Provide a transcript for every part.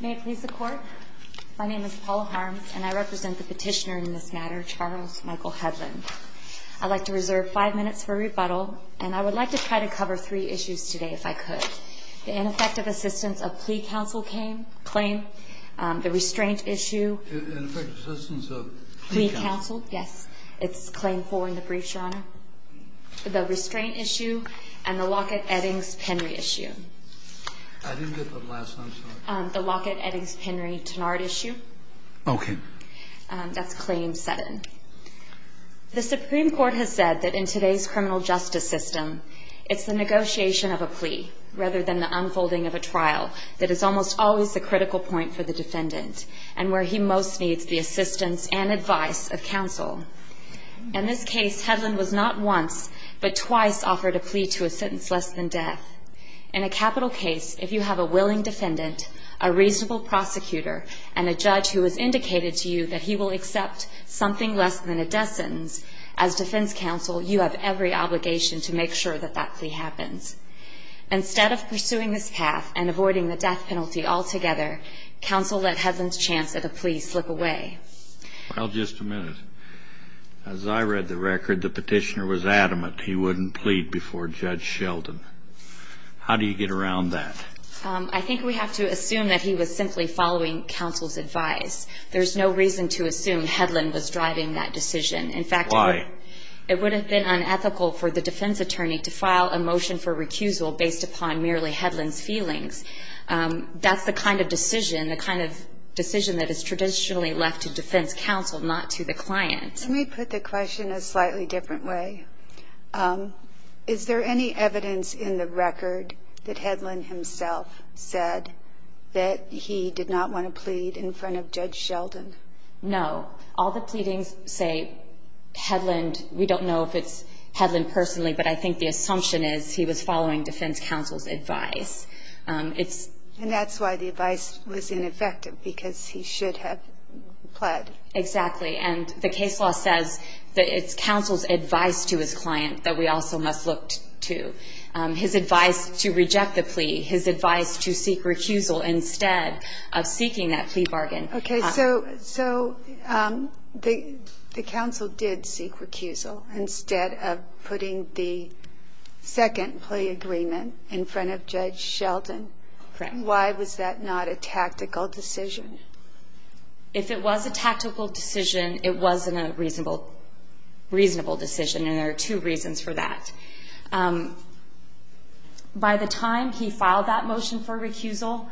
May it please the Court, my name is Paula Harms and I represent the petitioner in this matter, Charles Michael Hedlund. I'd like to reserve five minutes for rebuttal and I would like to try to cover three issues today if I could. The ineffective assistance of plea counsel claim, the restraint issue Ineffective assistance of plea counsel Yes, it's claim four in the brief, Your Honor. The restraint issue and the Lockett-Eddings-Penry issue. I didn't get the last one, I'm sorry. The Lockett-Eddings-Penry-Tenard issue. Okay. That's claim seven. The Supreme Court has said that in today's criminal justice system, it's the negotiation of a plea rather than the unfolding of a trial that is almost always the critical point for the defendant and where he most needs the assistance and advice of counsel. In this case, Hedlund was not once but twice offered a plea to a sentence less than death. In a capital case, if you have a willing defendant, a reasonable prosecutor and a judge who has indicated to you that he will accept something less than a death sentence, as defense counsel, you have every obligation to make sure that that plea happens. Instead of pursuing this path and avoiding the death penalty altogether, counsel let Hedlund's chance at a plea slip away. Well, just a minute. As I read the record, the petitioner was adamant he wouldn't plead before Judge Sheldon. How do you get around that? I think we have to assume that he was simply following counsel's advice. There's no reason to assume Hedlund was driving that decision. In fact, it would have been unethical for the defense attorney to file a motion for recusal based upon merely Hedlund's feelings. That's the kind of decision, the kind of decision that is traditionally left to defense counsel, not to the client. Let me put the question a slightly different way. Is there any evidence in the record that Hedlund himself said that he did not want to plead in front of Judge Sheldon? No. All the pleadings say Hedlund. We don't know if it's Hedlund personally, but I think the assumption is he was following defense counsel's advice. And that's why the advice was ineffective, because he should have pled. Exactly. And the case law says that it's counsel's advice to his client that we also must look to. His advice to reject the plea, his advice to seek recusal instead of seeking that plea bargain. Okay. So the counsel did seek recusal instead of putting the second plea agreement in front of Judge Sheldon. Correct. Why was that not a tactical decision? If it was a tactical decision, it wasn't a reasonable decision, and there are two reasons for that. By the time he filed that motion for recusal,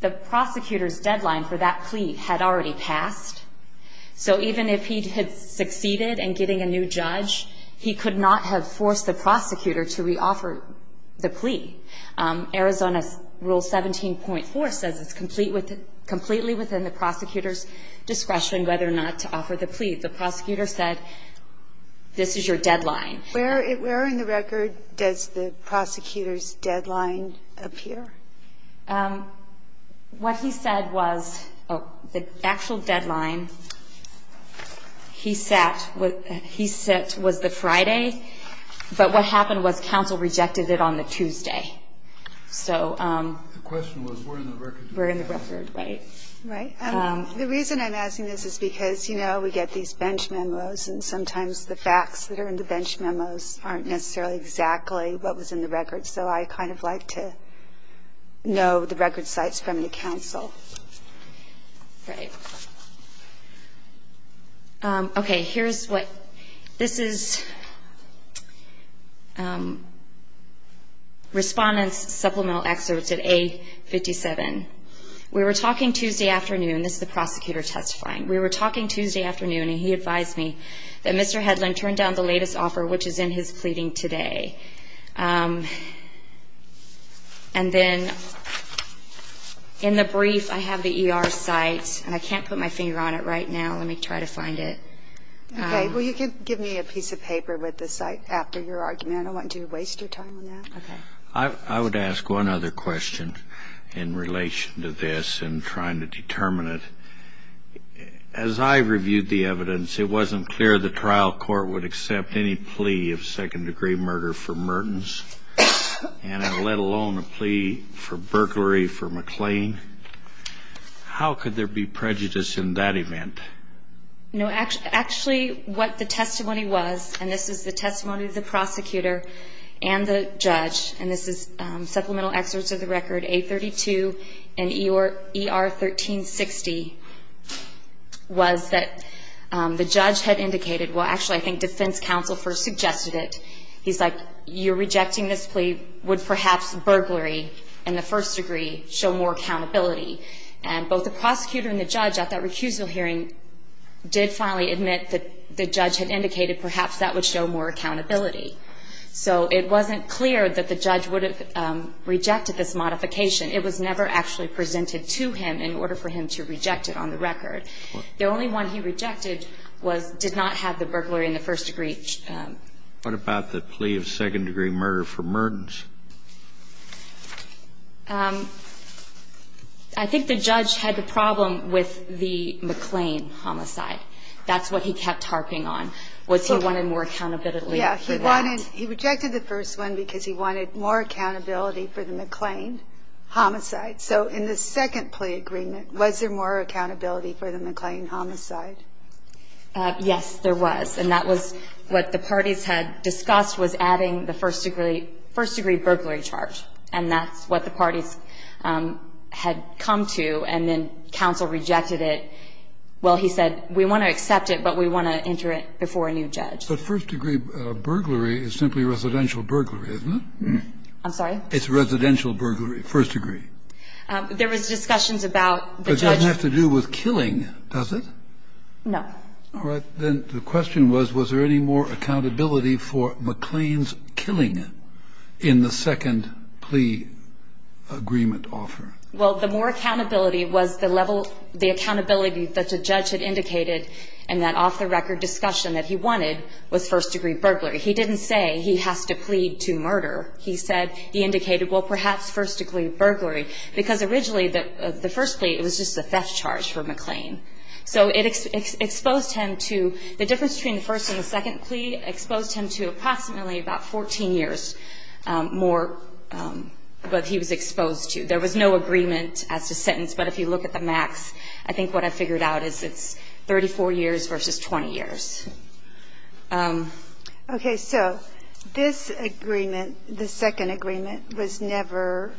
the prosecutor's deadline for that plea had already passed. So even if he had succeeded in getting a new judge, he could not have forced the prosecutor to reoffer the plea. Arizona Rule 17.4 says it's completely within the prosecutor's discretion whether or not to offer the plea. The prosecutor said, this is your deadline. Where in the record does the prosecutor's deadline appear? What he said was the actual deadline he set was the Friday. But what happened was counsel rejected it on the Tuesday. The question was, where in the record? Where in the record, right. Right. The reason I'm asking this is because, you know, we get these bench memos, and sometimes the facts that are in the bench memos aren't necessarily exactly what was in the record. So I kind of like to know the record sites from the counsel. Right. Okay. Here's what this is. Respondents supplemental excerpts at A57. We were talking Tuesday afternoon. This is the prosecutor testifying. We were talking Tuesday afternoon, and he advised me that Mr. Hedlund turned down the latest offer, which is in his pleading today. And then in the brief I have the ER site, and I can't put my finger on it right now. So let me try to find it. Okay. Well, you can give me a piece of paper with the site after your argument. I don't want you to waste your time on that. Okay. I would ask one other question in relation to this and trying to determine it. As I reviewed the evidence, it wasn't clear the trial court would accept any plea of second-degree murder for Mertens, and let alone a plea for burglary for McLean. How could there be prejudice in that event? No, actually what the testimony was, and this is the testimony of the prosecutor and the judge, and this is supplemental excerpts of the record, A32 and ER 1360, was that the judge had indicated, well, actually, I think defense counsel first suggested it. He's like, you're rejecting this plea, and he would perhaps burglary in the first degree show more accountability. And both the prosecutor and the judge at that recusal hearing did finally admit that the judge had indicated perhaps that would show more accountability. So it wasn't clear that the judge would have rejected this modification. It was never actually presented to him in order for him to reject it on the record. The only one he rejected did not have the burglary in the first degree. What about the plea of second-degree murder for Mertens? I think the judge had the problem with the McLean homicide. That's what he kept harping on. Was he wanting more accountability for that? Yeah. He wanted he rejected the first one because he wanted more accountability for the McLean homicide. So in the second plea agreement, was there more accountability for the McLean homicide? Yes, there was. And that was what the parties had discussed was adding the first-degree burglary charge. And that's what the parties had come to. And then counsel rejected it. Well, he said, we want to accept it, but we want to enter it before a new judge. But first-degree burglary is simply residential burglary, isn't it? I'm sorry? It's residential burglary, first degree. There was discussions about the judge. But it doesn't have to do with killing, does it? No. All right. Then the question was, was there any more accountability for McLean's killing in the second plea agreement offer? Well, the more accountability was the level, the accountability that the judge had indicated in that off-the-record discussion that he wanted was first-degree burglary. He didn't say he has to plead to murder. He said he indicated, well, perhaps first-degree burglary. Because originally the first plea, it was just a theft charge for McLean. So it exposed him to the difference between the first and the second plea exposed him to approximately about 14 years more than he was exposed to. There was no agreement as to sentence. But if you look at the max, I think what I figured out is it's 34 years versus 20 years. Okay. So this agreement, the second agreement, was never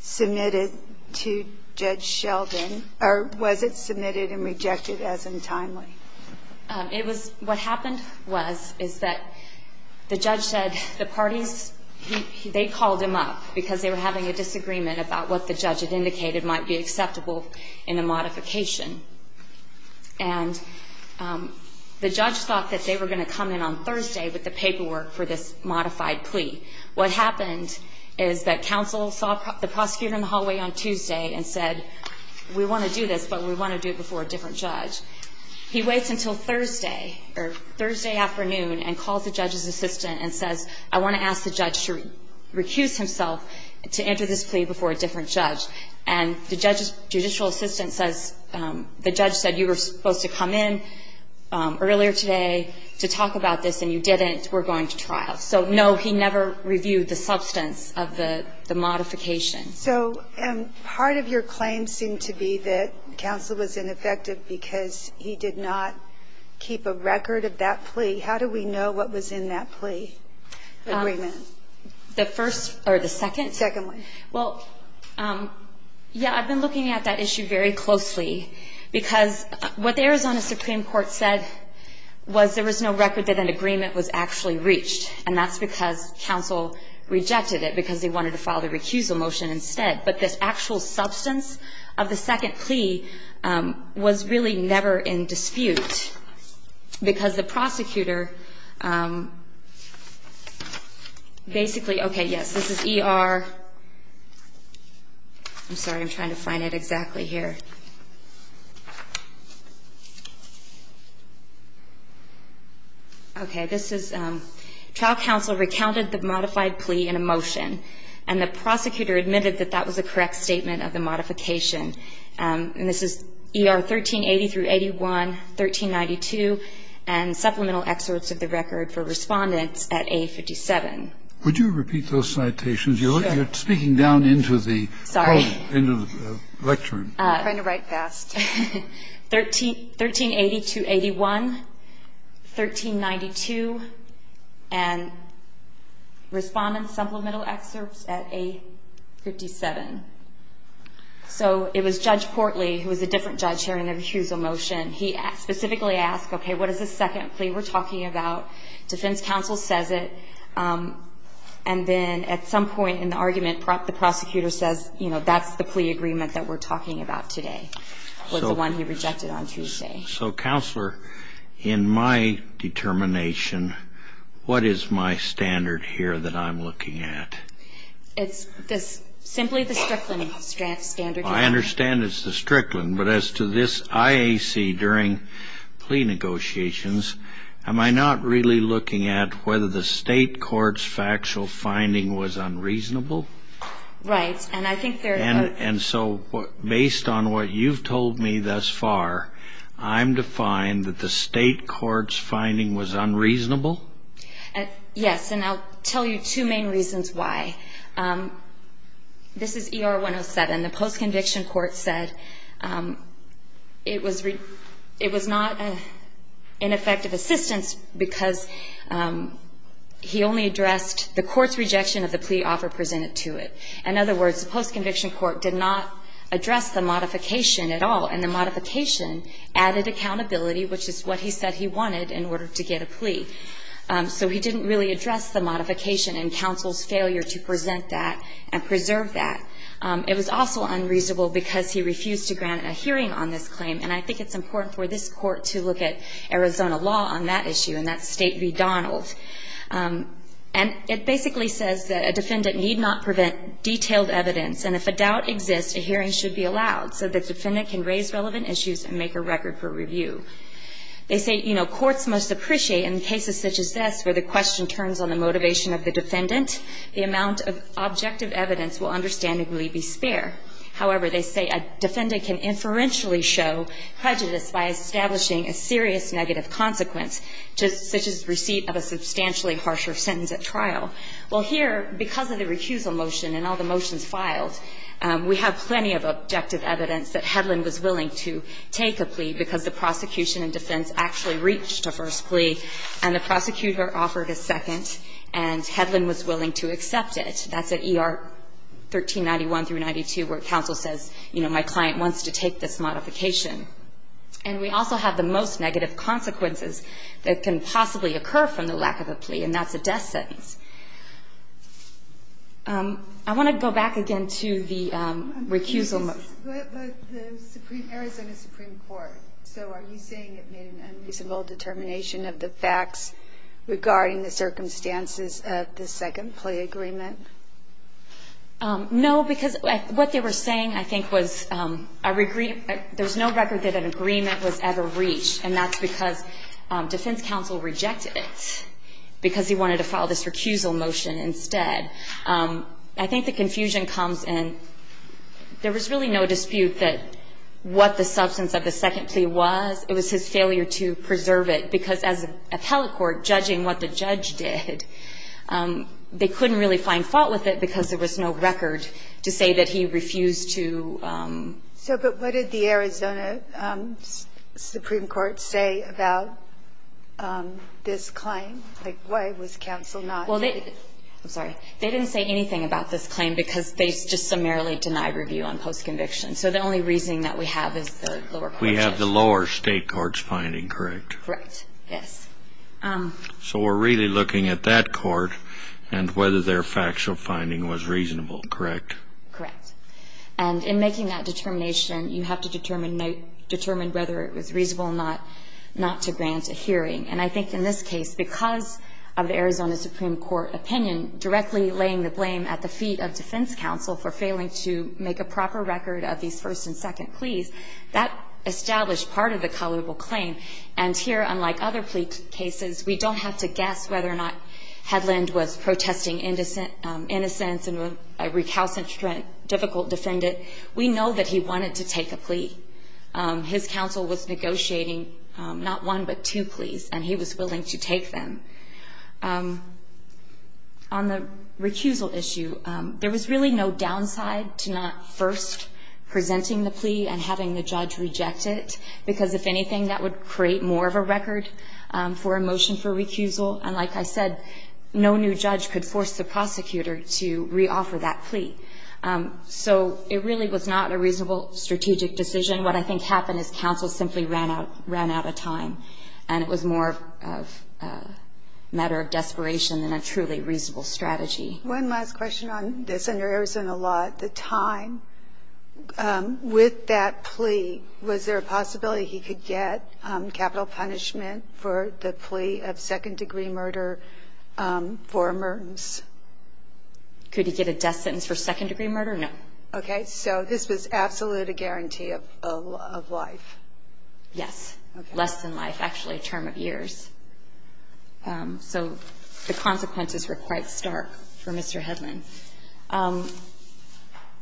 submitted to Judge Sheldon or was it submitted and rejected as untimely? What happened was, is that the judge said the parties, they called him up because they were having a disagreement about what the judge had indicated might be acceptable in a modification. And the judge thought that they were going to come in on Thursday with the paperwork for this modified plea. What happened is that counsel saw the prosecutor in the hallway on Tuesday and said, we want to do this, but we want to do it before a different judge. He waits until Thursday or Thursday afternoon and calls the judge's assistant and says, I want to ask the judge to recuse himself to enter this plea before a different judge. And the judge's judicial assistant says, the judge said you were supposed to come in earlier today to talk about this and you didn't. We're going to trial. So, no, he never reviewed the substance of the modification. So part of your claim seemed to be that counsel was ineffective because he did not keep a record of that plea. How do we know what was in that plea agreement? The first or the second? The second one. Well, yeah, I've been looking at that issue very closely because what the Arizona Supreme Court said was there was no record that an agreement was actually reached and that's because counsel rejected it because they wanted to file the recusal motion instead. But this actual substance of the second plea was really never in dispute because the prosecutor basically, okay, yes, this is ER. I'm sorry. I'm trying to find it exactly here. Okay. This is trial counsel recounted the modified plea in a motion, and the prosecutor admitted that that was a correct statement of the modification. And this is ER 1380 through 81, 1392, and supplemental excerpts of the record for Respondents at A57. Would you repeat those citations? Sure. You're speaking down into the home, into the lectern. I'm trying to write fast. 1380 to 81, 1392, and Respondents' supplemental excerpts at A57. So it was Judge Portley, who was a different judge here in the recusal motion, he specifically asked, okay, what is this second plea we're talking about? Defense counsel says it. And then at some point in the argument, the prosecutor says, you know, that's the one he rejected on Tuesday. So, counselor, in my determination, what is my standard here that I'm looking at? It's simply the Strickland standard. I understand it's the Strickland. But as to this IAC during plea negotiations, am I not really looking at whether the state court's factual finding was unreasonable? Right. And so based on what you've told me thus far, I'm defined that the state court's finding was unreasonable? Yes. And I'll tell you two main reasons why. This is ER 107. The post-conviction court said it was not an ineffective assistance because he only addressed the court's rejection of the plea offer presented to it. In other words, the post-conviction court did not address the modification at all, and the modification added accountability, which is what he said he wanted in order to get a plea. So he didn't really address the modification and counsel's failure to present that and preserve that. It was also unreasonable because he refused to grant a hearing on this claim. And I think it's important for this court to look at Arizona law on that issue, and that's State v. Donald. And it basically says that a defendant need not prevent detailed evidence, and if a doubt exists, a hearing should be allowed so the defendant can raise relevant issues and make a record for review. They say, you know, courts must appreciate in cases such as this where the question turns on the motivation of the defendant, the amount of objective evidence will understandably be spare. However, they say a defendant can inferentially show prejudice by establishing a serious negative consequence, such as receipt of a substantially harsher sentence at trial. Well, here, because of the recusal motion and all the motions filed, we have plenty of objective evidence that Hedlund was willing to take a plea because the prosecution and defense actually reached a first plea, and the prosecutor offered a second, and Hedlund was willing to accept it. That's at ER 1391 through 92, where counsel says, you know, my client wants to take this modification. And we also have the most negative consequences that can possibly occur from the lack of a plea, and that's a death sentence. I want to go back again to the recusal motion. But the Arizona Supreme Court, so are you saying it made an unreasonable determination of the facts regarding the circumstances of the second plea agreement? No, because what they were saying, I think, was there's no record that an agreement was ever reached, and that's because defense counsel rejected it, because he wanted to file this recusal motion instead. I think the confusion comes in, there was really no dispute that what the substance of the second plea was, it was his failure to preserve it, because as an appellate court, judging what the judge did, they couldn't really find fault with it, because there was no record to say that he refused to. So, but what did the Arizona Supreme Court say about this claim? Like, why was counsel not? Well, they, I'm sorry, they didn't say anything about this claim, because they just summarily denied review on post-conviction. So the only reasoning that we have is the lower courts. We have the lower state courts finding, correct? Right, yes. So we're really looking at that court and whether their factual finding was reasonable, correct? Correct. And in making that determination, you have to determine whether it was reasonable not to grant a hearing. And I think in this case, because of the Arizona Supreme Court opinion directly laying the blame at the feet of defense counsel for failing to make a proper record of these first and second pleas, that established part of the colorable claim. And here, unlike other plea cases, we don't have to guess whether or not Hedlund was protesting innocence and was a recalcitrant, difficult defendant. We know that he wanted to take a plea. His counsel was negotiating not one but two pleas, and he was willing to take them. On the recusal issue, there was really no downside to not first presenting the plea and having the judge reject it, because if anything, that would create more of a record for a motion for recusal. And like I said, no new judge could force the prosecutor to reoffer that plea. So it really was not a reasonable strategic decision. What I think happened is counsel simply ran out of time, and it was more a matter of desperation than a truly reasonable strategy. One last question on this. Under Arizona law, at the time, with that plea, was there a possibility he could get capital punishment for the plea of second-degree murder for a murders? Could he get a death sentence for second-degree murder? No. Okay. So this was absolutely a guarantee of life. Yes. Less than life, actually, a term of years. So the consequences were quite stark for Mr. Hedlund.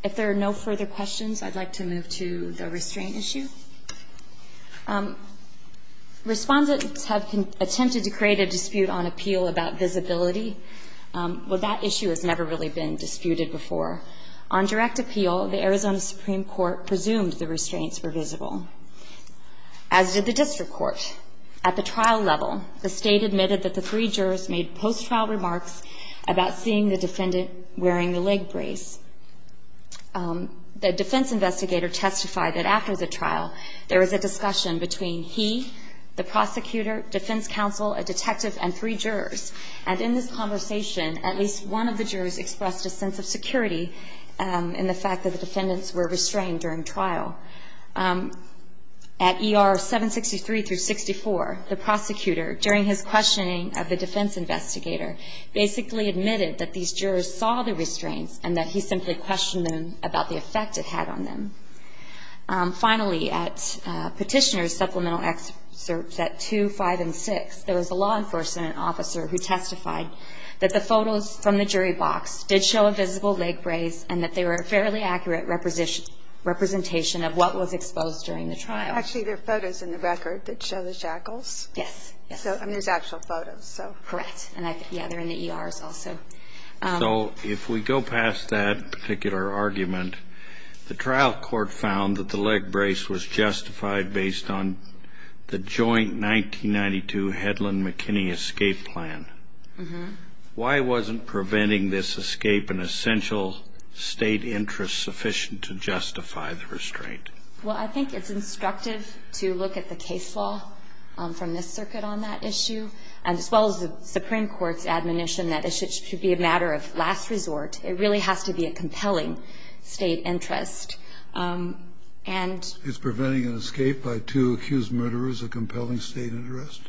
If there are no further questions, I'd like to move to the restraint issue. Respondents have attempted to create a dispute on appeal about visibility. Well, that issue has never really been disputed before. On direct appeal, the Arizona Supreme Court presumed the restraints were visible, as did the district court. At the trial level, the state admitted that the three jurors made post-trial remarks about seeing the defendant wearing the leg brace. The defense investigator testified that after the trial, there was a discussion between he, the prosecutor, defense counsel, a detective, and three jurors. And in this conversation, at least one of the jurors expressed a sense of security in the fact that the defendants were restrained during trial. At ER 763-64, the prosecutor, during his questioning of the defense investigator, basically admitted that these jurors saw the restraints and that he simply questioned them about the effect it had on them. Finally, at petitioner's supplemental excerpts at 2, 5, and 6, there was a law enforcement officer who testified that the photos from the jury box did show a visible leg brace and that they were a fairly accurate representation of what was exposed during the trial. Actually, there are photos in the record that show the shackles. Yes. And there's actual photos. Correct. And, yeah, they're in the ERs also. So if we go past that particular argument, the trial court found that the leg brace was justified based on the joint 1992 Hedlund-McKinney escape plan. Why wasn't preventing this escape an essential State interest sufficient to justify the restraint? Well, I think it's instructive to look at the case law from this circuit on that issue, as well as the Supreme Court's admonition that it should be a matter of last resort. It really has to be a compelling State interest. And Is preventing an escape by two accused murderers a compelling State interest?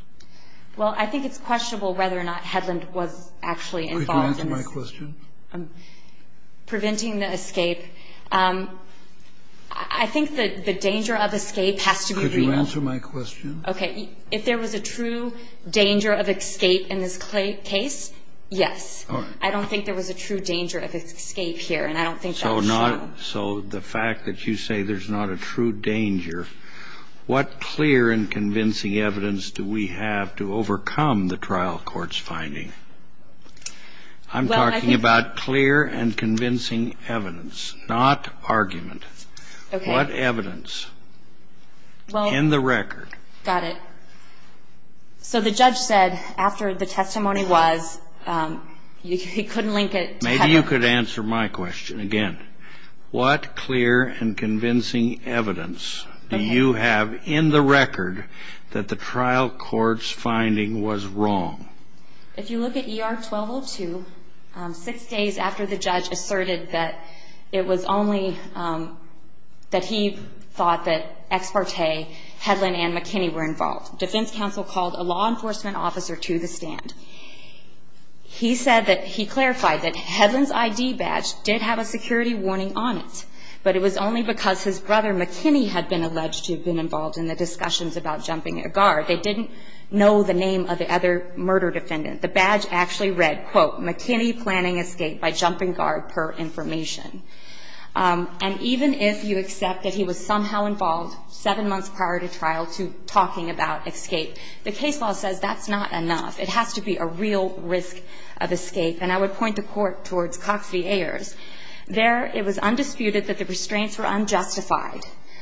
Well, I think it's questionable whether or not Hedlund was actually involved in this. Could you answer my question? Preventing the escape. I think that the danger of escape has to be revealed. Could you answer my question? Okay. If there was a true danger of escape in this case, yes. All right. I don't think there was a true danger of escape here, and I don't think that's true. So the fact that you say there's not a true danger, what clear and convincing evidence do we have to overcome the trial court's finding? I'm talking about clear and convincing evidence, not argument. Okay. What evidence in the record? Got it. So the judge said after the testimony was, he couldn't link it to Hedlund. Maybe you could answer my question again. What clear and convincing evidence do you have in the record that the trial court's finding was wrong? If you look at ER 1202, six days after the judge asserted that it was only, that he thought that ex parte Hedlund and McKinney were involved, defense counsel called a law enforcement officer to the stand. He said that he clarified that Hedlund's ID badge did have a security warning on it, but it was only because his brother, McKinney, had been alleged to have been involved in the discussions about jumping a guard. They didn't know the name of the other murder defendant. The badge actually read, quote, McKinney planning escape by jumping guard per information. And even if you accept that he was somehow involved seven months prior to trial to talking about escape, the case law says that's not enough. It has to be a real risk of escape. And I would point the court towards Cox v. Ayers. There, it was undisputed that the restraints were unjustified,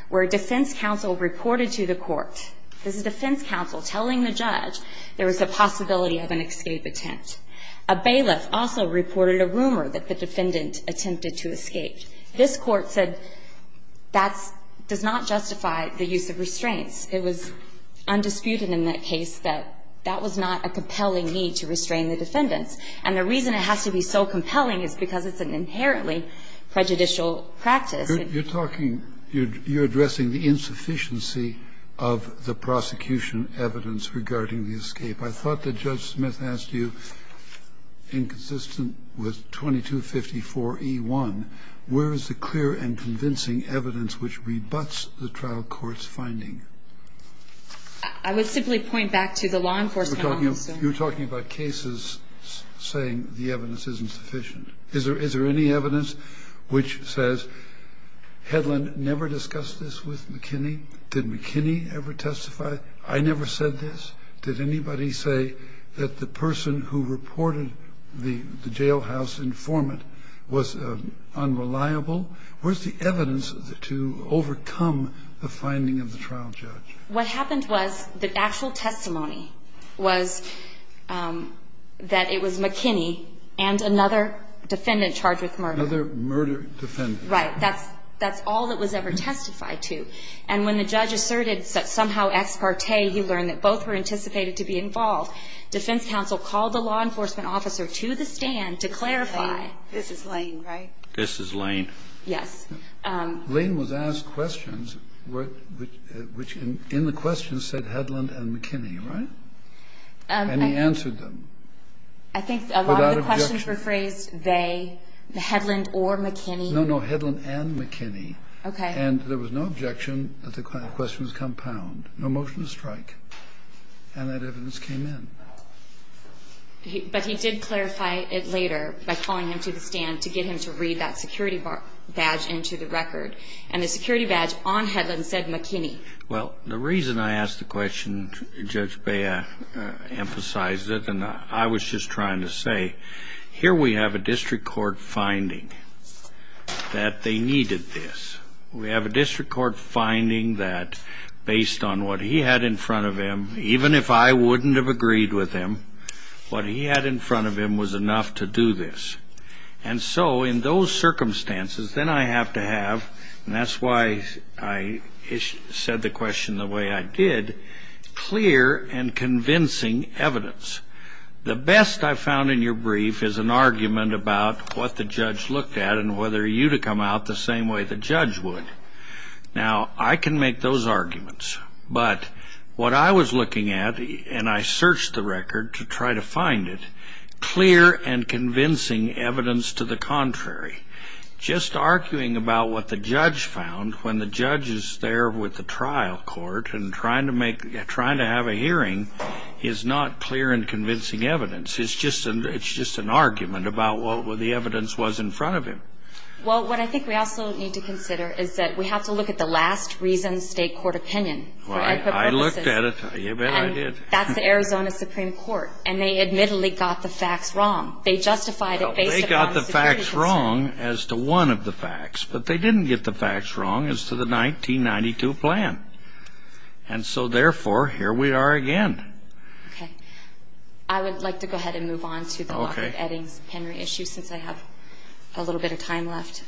where defense counsel reported to the court. This is defense counsel telling the judge there was a possibility of an escape attempt. A bailiff also reported a rumor that the defendant attempted to escape. It was undisputed in that case that that was not a compelling need to restrain the defendants. And the reason it has to be so compelling is because it's an inherently prejudicial practice. You're talking you're addressing the insufficiency of the prosecution evidence regarding the escape. I thought that Judge Smith asked you, inconsistent with 2254e1, where is the clear and convincing evidence which rebuts the trial court's finding? I would simply point back to the law enforcement officer. You're talking about cases saying the evidence isn't sufficient. Is there any evidence which says Hedlund never discussed this with McKinney? Did McKinney ever testify? I never said this. Did anybody say that the person who reported the jailhouse informant was unreliable? Where's the evidence to overcome the finding of the trial judge? What happened was the actual testimony was that it was McKinney and another defendant charged with murder. Another murder defendant. Right. That's all that was ever testified to. And when the judge asserted somehow ex parte, he learned that both were anticipated to be involved, defense counsel called the law enforcement officer to the stand to clarify. This is Lane, right? This is Lane. Yes. Lane was asked questions which in the questions said Hedlund and McKinney, right? And he answered them. I think a lot of the questions were phrased they, Hedlund or McKinney. No, no, Hedlund and McKinney. Okay. And there was no objection that the questions compound. No motion to strike. And that evidence came in. But he did clarify it later by calling him to the stand to get him to read that security badge into the record. And the security badge on Hedlund said McKinney. Well, the reason I asked the question, Judge Bea emphasized it, and I was just trying to say, here we have a district court finding that they needed this. We have a district court finding that based on what he had in front of him, even if I wouldn't have agreed with him, what he had in front of him was enough to do this. And so in those circumstances, then I have to have, and that's why I said the question the way I did, clear and convincing evidence. The best I found in your brief is an argument about what the judge looked at and whether you'd have come out the same way the judge would. Now, I can make those arguments. But what I was looking at, and I searched the record to try to find it, clear and convincing evidence to the contrary. Just arguing about what the judge found when the judge is there with the trial court and trying to have a hearing is not clear and convincing evidence. It's just an argument about what the evidence was in front of him. Well, what I think we also need to consider is that we have to look at the last reason state court opinion for equity purposes. Well, I looked at it. You bet I did. And that's the Arizona Supreme Court. And they admittedly got the facts wrong. They justified it based upon the security concern. Well, they got the facts wrong as to one of the facts. But they didn't get the facts wrong as to the 1992 plan. And so, therefore, here we are again. Okay. I would like to go ahead and move on to the Lockwood, Eddings, Henry issue since I have a little bit of time left.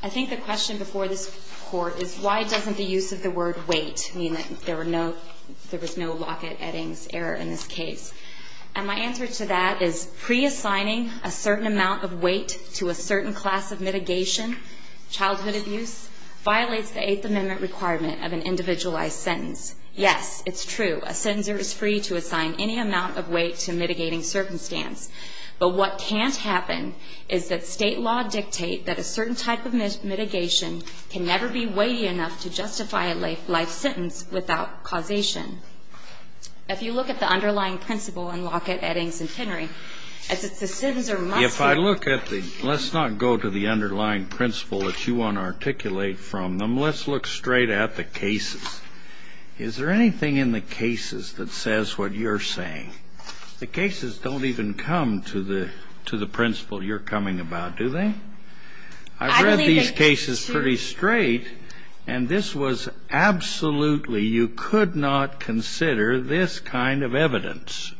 I think the question before this court is why doesn't the use of the word wait mean that there was no Lockwood, Eddings error in this case? And my answer to that is pre-assigning a certain amount of wait to a certain class of mitigation, childhood abuse, violates the Eighth Amendment requirement of an individualized sentence. Yes, it's true. A senator is free to assign any amount of wait to mitigating circumstance. But what can't happen is that state law dictate that a certain type of mitigation can never be weighty enough to justify a life sentence without causation. If you look at the underlying principle in Lockwood, Eddings, and Henry, as it's the senator must be. If I look at the, let's not go to the underlying principle that you want to articulate from them. Let's look straight at the cases. Is there anything in the cases that says what you're saying? The cases don't even come to the principle you're coming about, do they? I've read these cases pretty straight, and this was absolutely, you could not consider this kind of evidence.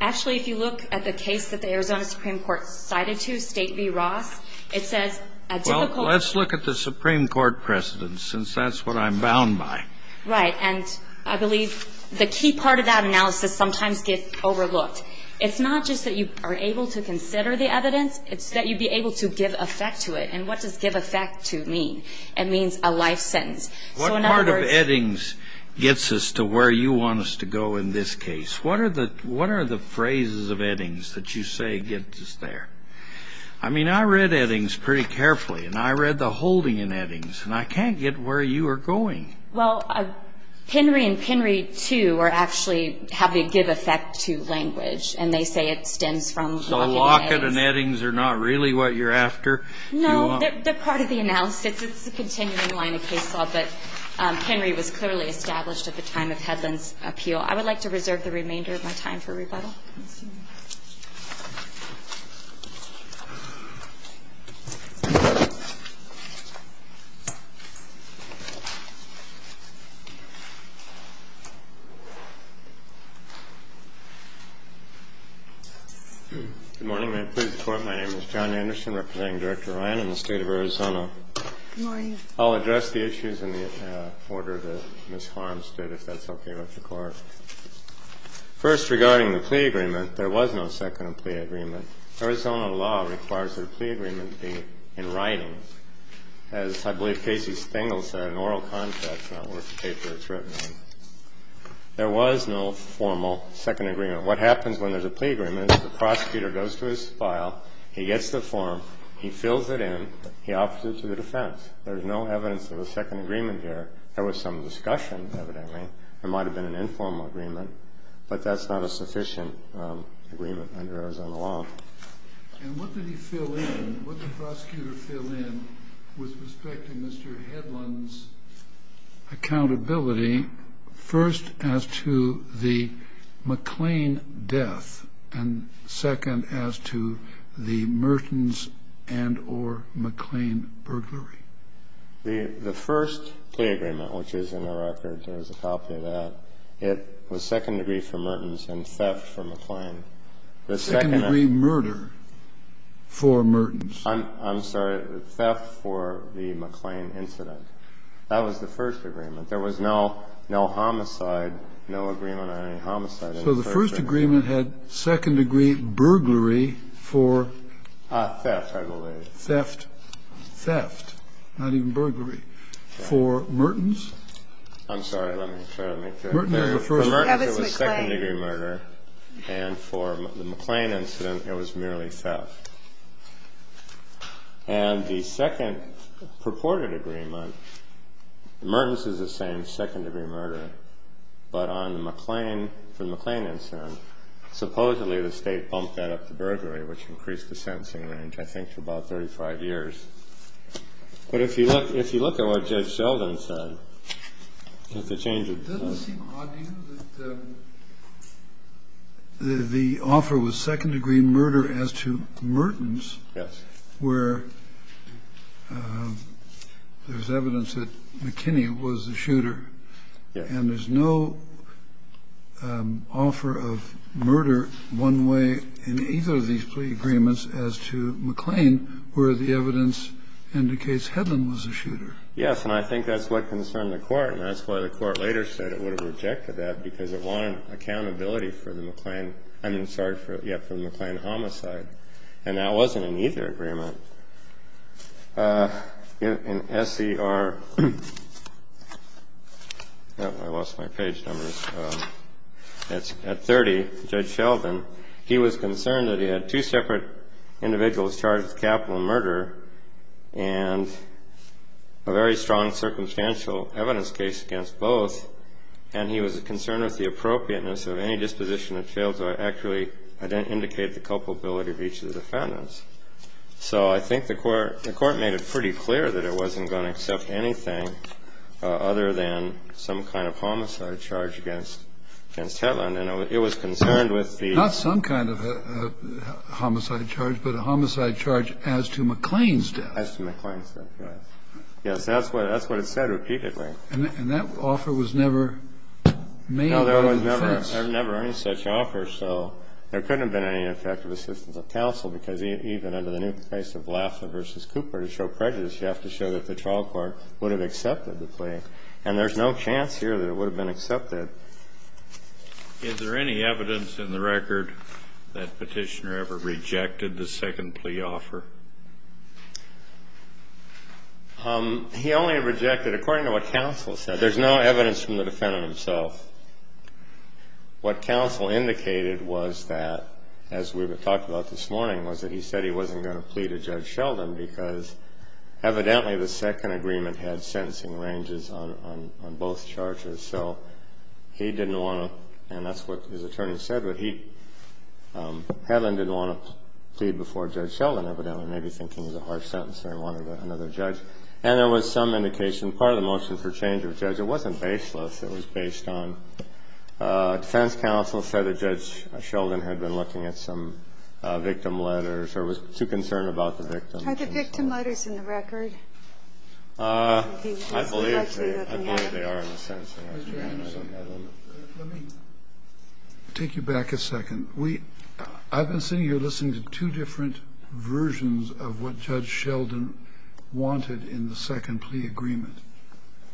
Actually, if you look at the case that the Arizona Supreme Court cited to, State v. Ross, it says a difficult. Well, let's look at the Supreme Court precedent, since that's what I'm bound by. Right. And I believe the key part of that analysis sometimes gets overlooked. It's not just that you are able to consider the evidence, it's that you'd be able to give effect to it. And what does give effect to mean? It means a life sentence. What part of Eddings gets us to where you want us to go in this case? What are the phrases of Eddings that you say get us there? I mean, I read Eddings pretty carefully, and I read the holding in Eddings, and I can't get where you are going. Well, Penry and Penry 2 are actually how they give effect to language, and they say it stems from Lockett and Eddings. So Lockett and Eddings are not really what you're after? No, they're part of the analysis. It's a continuing line of case law, but Penry was clearly established at the time of Hedlund's appeal. I would like to reserve the remainder of my time for rebuttal. Good morning. May it please the Court. My name is John Anderson, representing Director Ryan in the State of Arizona. Good morning. I'll address the issues in the order that Ms. Harms did, if that's okay with the Court. It's not just a case law. In the case of the plea agreement, there was no second plea agreement. Arizona law requires that a plea agreement be in writing. As I believe Casey Stengel said in oral context, not where the paper is written, there was no formal second agreement. What happens when there's a plea agreement is the prosecutor goes to his file, he gets the form, he fills it in, he offers it to the defense. There's no evidence of a second agreement here. There was some discussion, evidently. There might have been an informal agreement, but that's not a sufficient agreement under Arizona law. And what did he fill in, what did the prosecutor fill in, with respect to Mr. Hedlund's accountability, first as to the McLean death and second as to the Mertens and or McLean burglary? The first plea agreement, which is in the record, there's a copy of that, it was second degree for Mertens and theft for McLean. Second degree murder for Mertens. I'm sorry, theft for the McLean incident. That was the first agreement. There was no homicide, no agreement on any homicide. So the first agreement had second degree burglary for? Theft, I believe. Theft. Theft. Not even burglary. For Mertens? I'm sorry, let me make that clear. For Mertens, it was second degree murder. And for the McLean incident, it was merely theft. And the second purported agreement, Mertens is the same second degree murder, but on the McLean, for the McLean incident, supposedly the state bumped that up to burglary, which increased the sentencing range, I think, to about 35 years. But if you look at what Judge Sheldon said, it's a change of tone. It doesn't seem odd to you that the offer was second degree murder as to Mertens. Yes. And there's no offer of murder one way in either of these plea agreements as to McLean, where the evidence indicates Hedlund was the shooter. Yes, and I think that's what concerned the court. And that's why the court later said it would have rejected that, because it wanted accountability for the McLean ‑‑ I mean, sorry, for the McLean homicide. And that wasn't in either agreement. In SCR ‑‑ I lost my page numbers. At 30, Judge Sheldon, he was concerned that he had two separate individuals charged with capital murder and a very strong circumstantial evidence case against both, and he was concerned with the appropriateness of any disposition that failed to accurately indicate the culpability of each of the defendants. So I think the court made it pretty clear that it wasn't going to accept anything other than some kind of homicide charge against Hedlund. And it was concerned with the ‑‑ Not some kind of homicide charge, but a homicide charge as to McLean's death. As to McLean's death, yes. Yes, that's what it said repeatedly. And that offer was never made by the defense. No, there was never any such offer. There couldn't have been any effective assistance of counsel because even under the new case of Lafler v. Cooper, to show prejudice, you have to show that the trial court would have accepted the plea. And there's no chance here that it would have been accepted. Is there any evidence in the record that Petitioner ever rejected the second plea offer? He only rejected it according to what counsel said. There's no evidence from the defendant himself. What counsel indicated was that, as we talked about this morning, was that he said he wasn't going to plead to Judge Sheldon because evidently the second agreement had sentencing ranges on both charges. So he didn't want to, and that's what his attorney said, but Hedlund didn't want to plead before Judge Sheldon, evidently, maybe thinking it was a harsh sentence and he wanted another judge. And there was some indication, part of the motion for change of judge, it wasn't baseless, it was based on defense counsel said that Judge Sheldon had been looking at some victim letters or was too concerned about the victim. Are the victim letters in the record? I believe they are in the sentence. Let me take you back a second. I've been sitting here listening to two different versions of what Judge Sheldon wanted in the second plea agreement.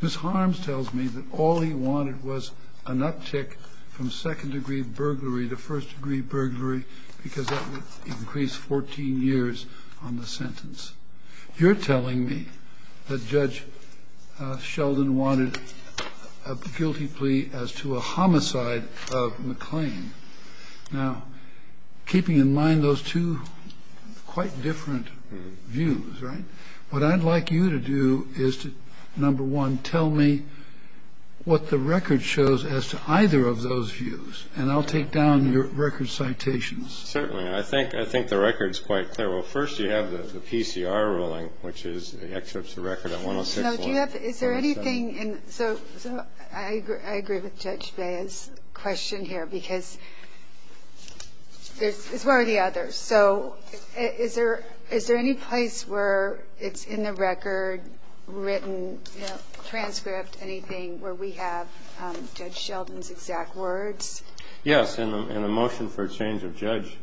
Ms. Harms tells me that all he wanted was an uptick from second-degree burglary to first-degree burglary because that would increase 14 years on the sentence. You're telling me that Judge Sheldon wanted a guilty plea as to a homicide of McClain. Now, keeping in mind those two quite different views, right, what I'd like you to do is to, number one, tell me what the record shows as to either of those views, and I'll take down your record citations. Certainly. I think the record's quite clear. Well, first you have the PCR ruling, which is the excerpt of the record on 106. Now, do you have the ‑‑ is there anything in ‑‑ so I agree with Judge Bea's question here because it's one or the other. So is there any place where it's in the record, written, transcript, anything where we have Judge Sheldon's exact words? Yes. In the motion for exchange of Judge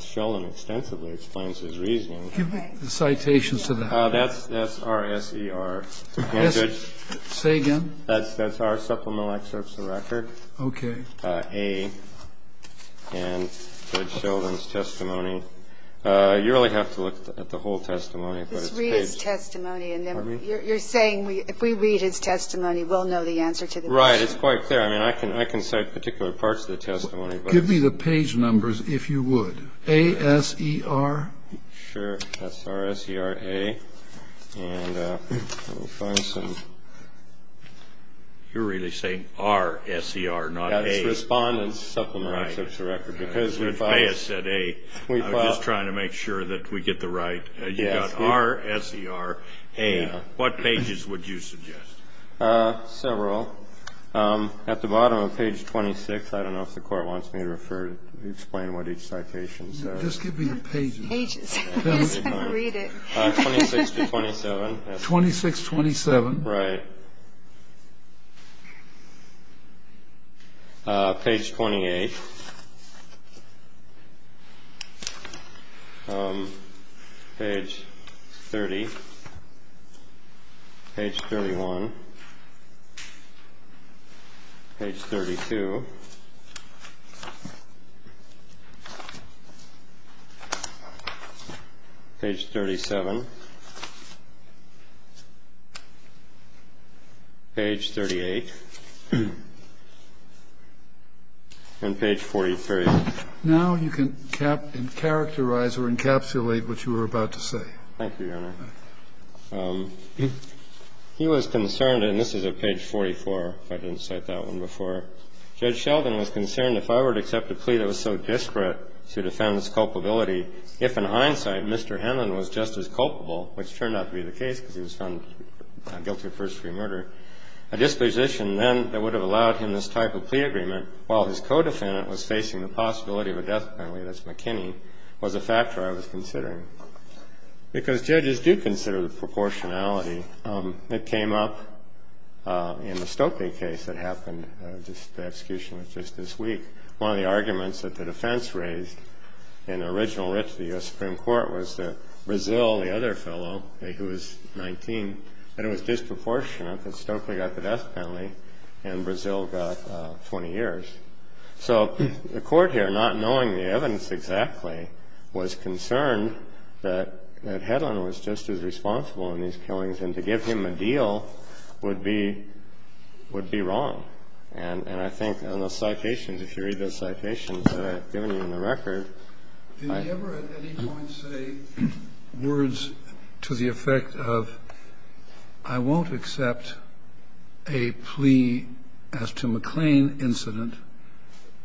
Sheldon extensively explains his reasoning. Give me the citations to that. That's RSER. Say again? That's our supplemental excerpts of the record. Okay. And Judge Sheldon's testimony. You really have to look at the whole testimony. Just read his testimony. You're saying if we read his testimony, we'll know the answer to the motion. Right. It's quite clear. I mean, I can cite particular parts of the testimony. Give me the page numbers, if you would. A, S, E, R. Sure. That's RSERA. And let me find some. You're really saying R-S-E-R, not A. That's Respondent's Supplemental Excerpts of the Record. Right. Because we thought. Judge Bea said A. We thought. I'm just trying to make sure that we get the right. You got R-S-E-R-A. Yeah. What pages would you suggest? Several. At the bottom of page 26, I don't know if the Court wants me to explain what each citation says. Just give me the pages. Pages. I'm just going to read it. 26 to 27. 26, 27. Right. Page 28. Page 30. Page 31. Page 32. Page 37. Page 38. And page 43. Now you can characterize or encapsulate what you were about to say. Thank you, Your Honor. He was concerned, and this is at page 44, if I didn't cite that one before. Judge Sheldon was concerned if I were to accept a plea that was so disparate to the defendant's culpability, if in hindsight Mr. Henlon was just as culpable, which turned out to be the case because he was found guilty of first-degree murder, a disposition then that would have allowed him this type of plea agreement while his co-defendant was facing the possibility of a death penalty, that's McKinney, was a factor I was considering. Because judges do consider the proportionality that came up in the Stokely case that happened. The execution was just this week. One of the arguments that the defense raised in the original writ to the U.S. Supreme Court was that Brazil, the other fellow who was 19, that it was disproportionate that Stokely got the death penalty and Brazil got 20 years. So the Court here, not knowing the evidence exactly, was concerned that Henlon was just as responsible in these killings and to give him a deal would be wrong. And I think in the citations, if you read the citations that I've given you in the record, I think... And I'm not going to go into the details of the case, but I think that the Court has to be concerned as to McLean incident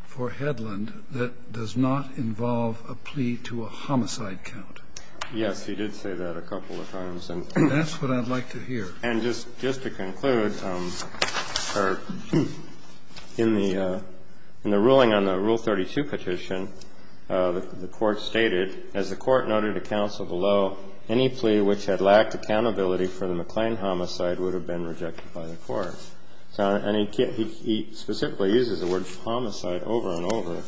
for Hedlund that does not involve a plea to a homicide count. Yes. He did say that a couple of times. And that's what I'd like to hear. And just to conclude, in the ruling on the Rule 32 petition, the Court stated, as the Court noted to counsel below, any plea which had lacked accountability for the McLean homicide would have been rejected by the Court. And he specifically uses the word homicide over and over.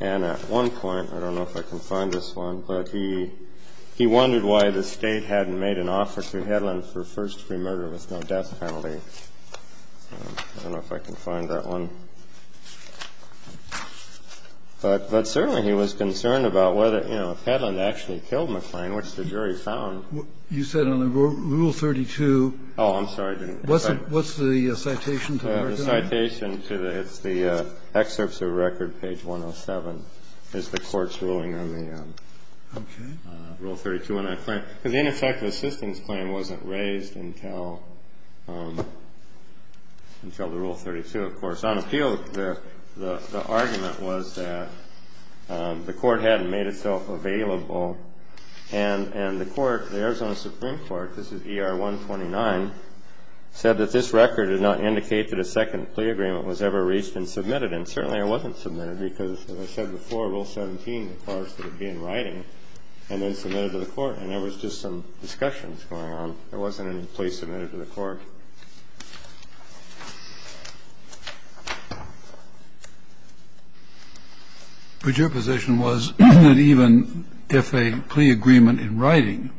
And at one point, I don't know if I can find this one, but he wondered why the State hadn't made an offer to Hedlund for first-degree murder with no death penalty. I don't know if I can find that one. But certainly he was concerned about whether, you know, if Hedlund actually killed McLean, which the jury found... You said on Rule 32... Oh, I'm sorry. What's the citation to the record? Page 107 is the Court's ruling on the Rule 32. In effect, the assistance claim wasn't raised until the Rule 32, of course. On appeal, the argument was that the Court hadn't made itself available. And the Court, the Arizona Supreme Court, this is ER 129, said that this record did not indicate that a second plea agreement was ever reached and submitted. And certainly it wasn't submitted because, as I said before, Rule 17 requires that it be in writing and then submitted to the Court. And there was just some discussions going on. There wasn't any plea submitted to the Court. But your position was that even if a plea agreement in writing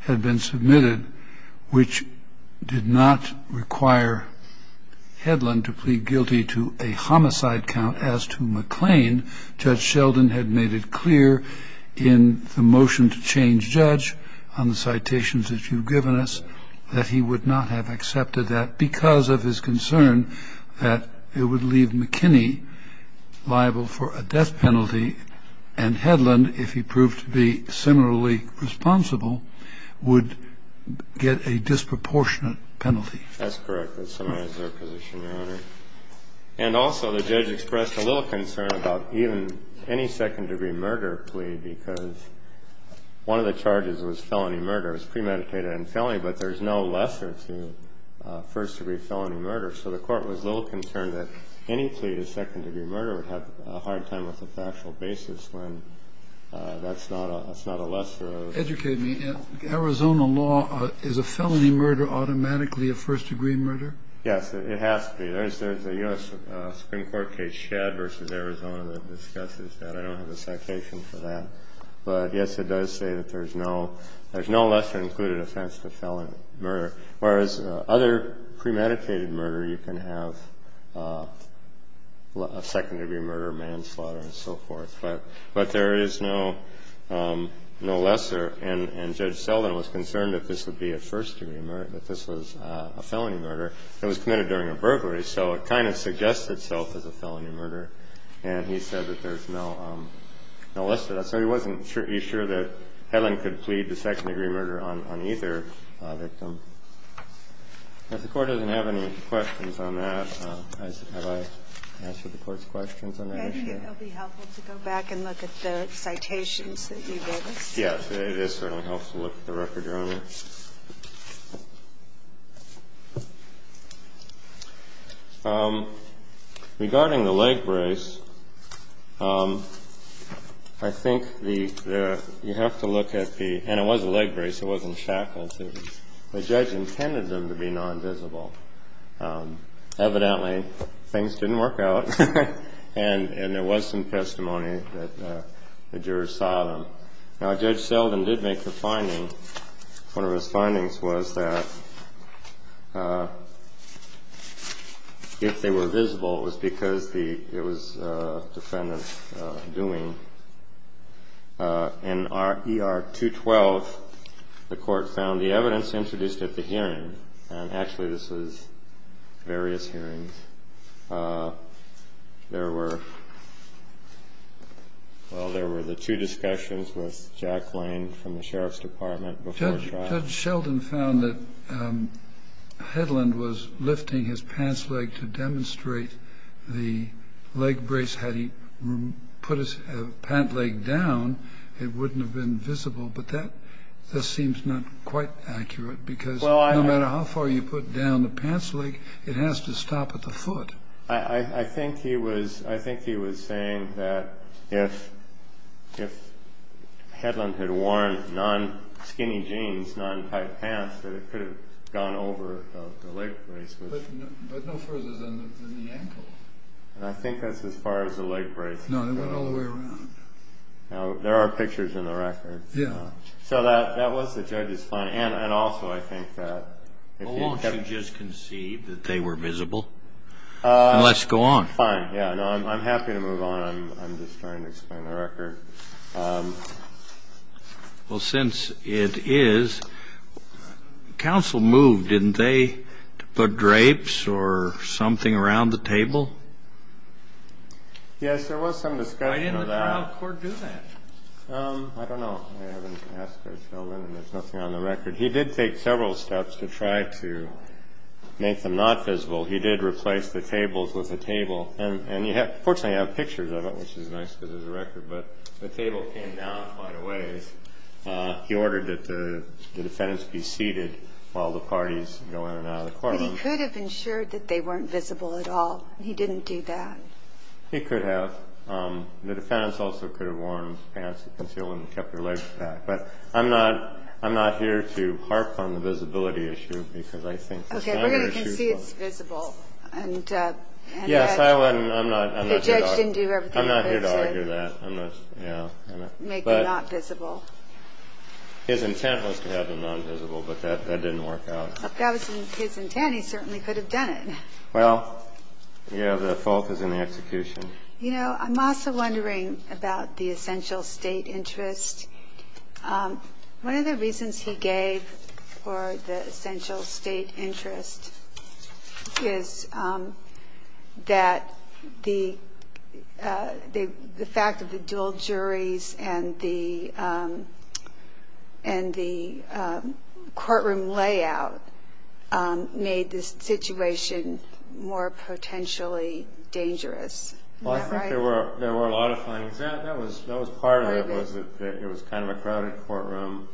had been submitted, which did not require Hedlund to plead guilty to a homicide count as to McLean, Judge Sheldon had made it clear in the motion to change judge on the citations that you've given us that he would not have accepted that because of his concern that it would leave McKinney liable for a death penalty and Hedlund, if he proved to be similarly responsible, would get a disproportionate penalty. That's correct. That summarizes our position, Your Honor. And also the judge expressed a little concern about even any second-degree murder plea because one of the charges was felony murder. It was premeditated and felony, but there's no lesser to first-degree felony murder. So the Court was a little concerned that any plea to second-degree murder would have a hard time with a factual basis when that's not a lesser. Educate me. In Arizona law, is a felony murder automatically a first-degree murder? Yes. It has to be. There's a U.S. Supreme Court case, Shad v. Arizona, that discusses that. I don't have a citation for that. But, yes, it does say that there's no lesser included offense to felony murder, whereas other premeditated murder, you can have a second-degree murder, manslaughter, and so forth. But there is no lesser, and Judge Selden was concerned that this would be a first-degree murder, that this was a felony murder that was committed during a burglary. So it kind of suggests itself as a felony murder, and he said that there's no lesser. So he wasn't sure that Helen could plead the second-degree murder on either victim. If the Court doesn't have any questions on that, have I answered the Court's questions on that issue? Maybe it would be helpful to go back and look at the citations that you gave us. Yes. It is certainly helpful to look at the record, Your Honor. Regarding the leg brace, I think the – you have to look at the – and it was a leg brace. It wasn't shackled. The judge intended them to be non-visible. Evidently, things didn't work out, and there was some testimony that the jurors saw them. Now, Judge Selden did make the finding. One of his findings was that if they were visible, it was because the – it was defendant's doing. In E.R. 212, the Court found the evidence introduced at the hearing – and actually, this was various hearings. There were – well, there were the two discussions with Jack Lane from the Sheriff's Department before trial. Judge Selden found that Hedlund was lifting his pants leg to demonstrate the leg brace. Had he put his pant leg down, it wouldn't have been visible. But that – this seems not quite accurate because no matter how far you put down the pants leg, it has to stop at the foot. I think he was – I think he was saying that if Hedlund had worn non-skinny jeans, non-tight pants, that it could have gone over the leg brace. But no further than the ankle. And I think that's as far as the leg brace can go. No, it went all the way around. Now, there are pictures in the record. Yeah. So that was the judge's finding. And also I think that if you – Well, won't you just conceive that they were visible? Let's go on. Fine. Yeah, no, I'm happy to move on. I'm just trying to explain the record. Well, since it is, counsel moved, didn't they, to put drapes or something around the table? Yes, there was some discussion of that. Why didn't the trial court do that? I don't know. I haven't asked Judge Hedlund, and there's nothing on the record. He did take several steps to try to make them not visible. He did replace the tables with a table. And, fortunately, you have pictures of it, which is nice because there's a record. But the table came down quite a ways. He ordered that the defendants be seated while the parties go in and out of the courtroom. But he could have ensured that they weren't visible at all. He didn't do that. He could have. The defendants also could have worn pants that concealed and kept their legs back. But I'm not here to harp on the visibility issue because I think the sounder issue is wrong. Okay, we can see it's visible. Yes, I'm not here to argue that. The judge didn't do everything he could to make them not visible. His intent was to have them not visible, but that didn't work out. If that was his intent, he certainly could have done it. Well, yeah, the fault is in the execution. You know, I'm also wondering about the essential state interest. One of the reasons he gave for the essential state interest is that the fact that the dual juries and the courtroom layout made this situation more potentially dangerous. Isn't that right? Well, I think there were a lot of findings. That was part of it, was that it was kind of a crowded courtroom.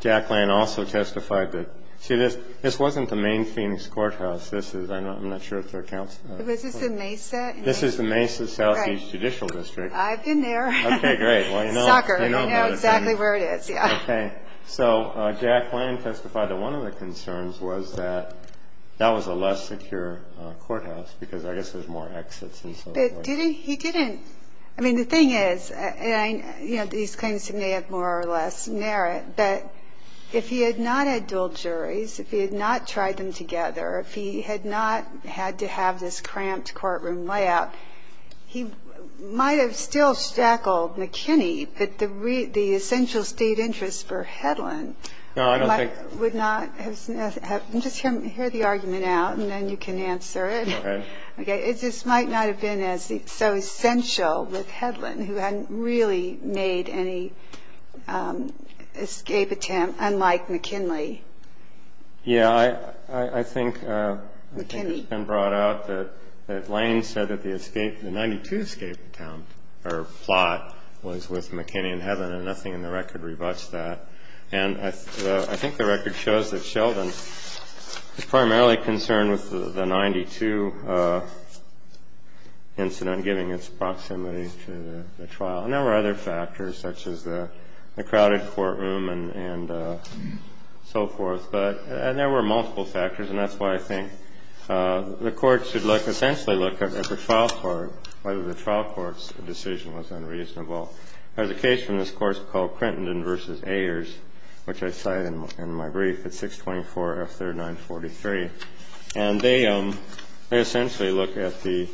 Jacqueline also testified that, see, this wasn't the main Phoenix courthouse. I'm not sure if there are counselors. Was this the Mesa? This is the Mesa Southeast Judicial District. I've been there. Okay, great. Soccer. You know exactly where it is, yeah. Okay. So Jacqueline testified that one of the concerns was that that was a less secure courthouse because I guess there's more exits and so forth. But did he? He didn't. I mean, the thing is, you know, these claims may have more or less merit, but if he had not had dual juries, if he had not tried them together, if he had not had to have this cramped courtroom layout, he might have still shackled McKinney, but the essential state interest for Hedlund would not have. No, I don't think. Just hear the argument out, and then you can answer it. Okay. This might not have been so essential with Hedlund, who hadn't really made any escape attempt, unlike McKinley. Yeah, I think it's been brought out that Lane said that the escape, the 92 escape attempt or plot was with McKinney and Hedlund, and nothing in the record rebutts that. And I think the record shows that Sheldon is primarily concerned with the 92 incident, giving its proximity to the trial. And there were other factors, such as the crowded courtroom and so forth, and there were multiple factors, and that's why I think the courts should look, essentially look at the trial court, whether the trial court's decision was unreasonable. There's a case from this course called Crinton v. Ayers, which I cite in my brief at 624 F 3943, and they essentially look at the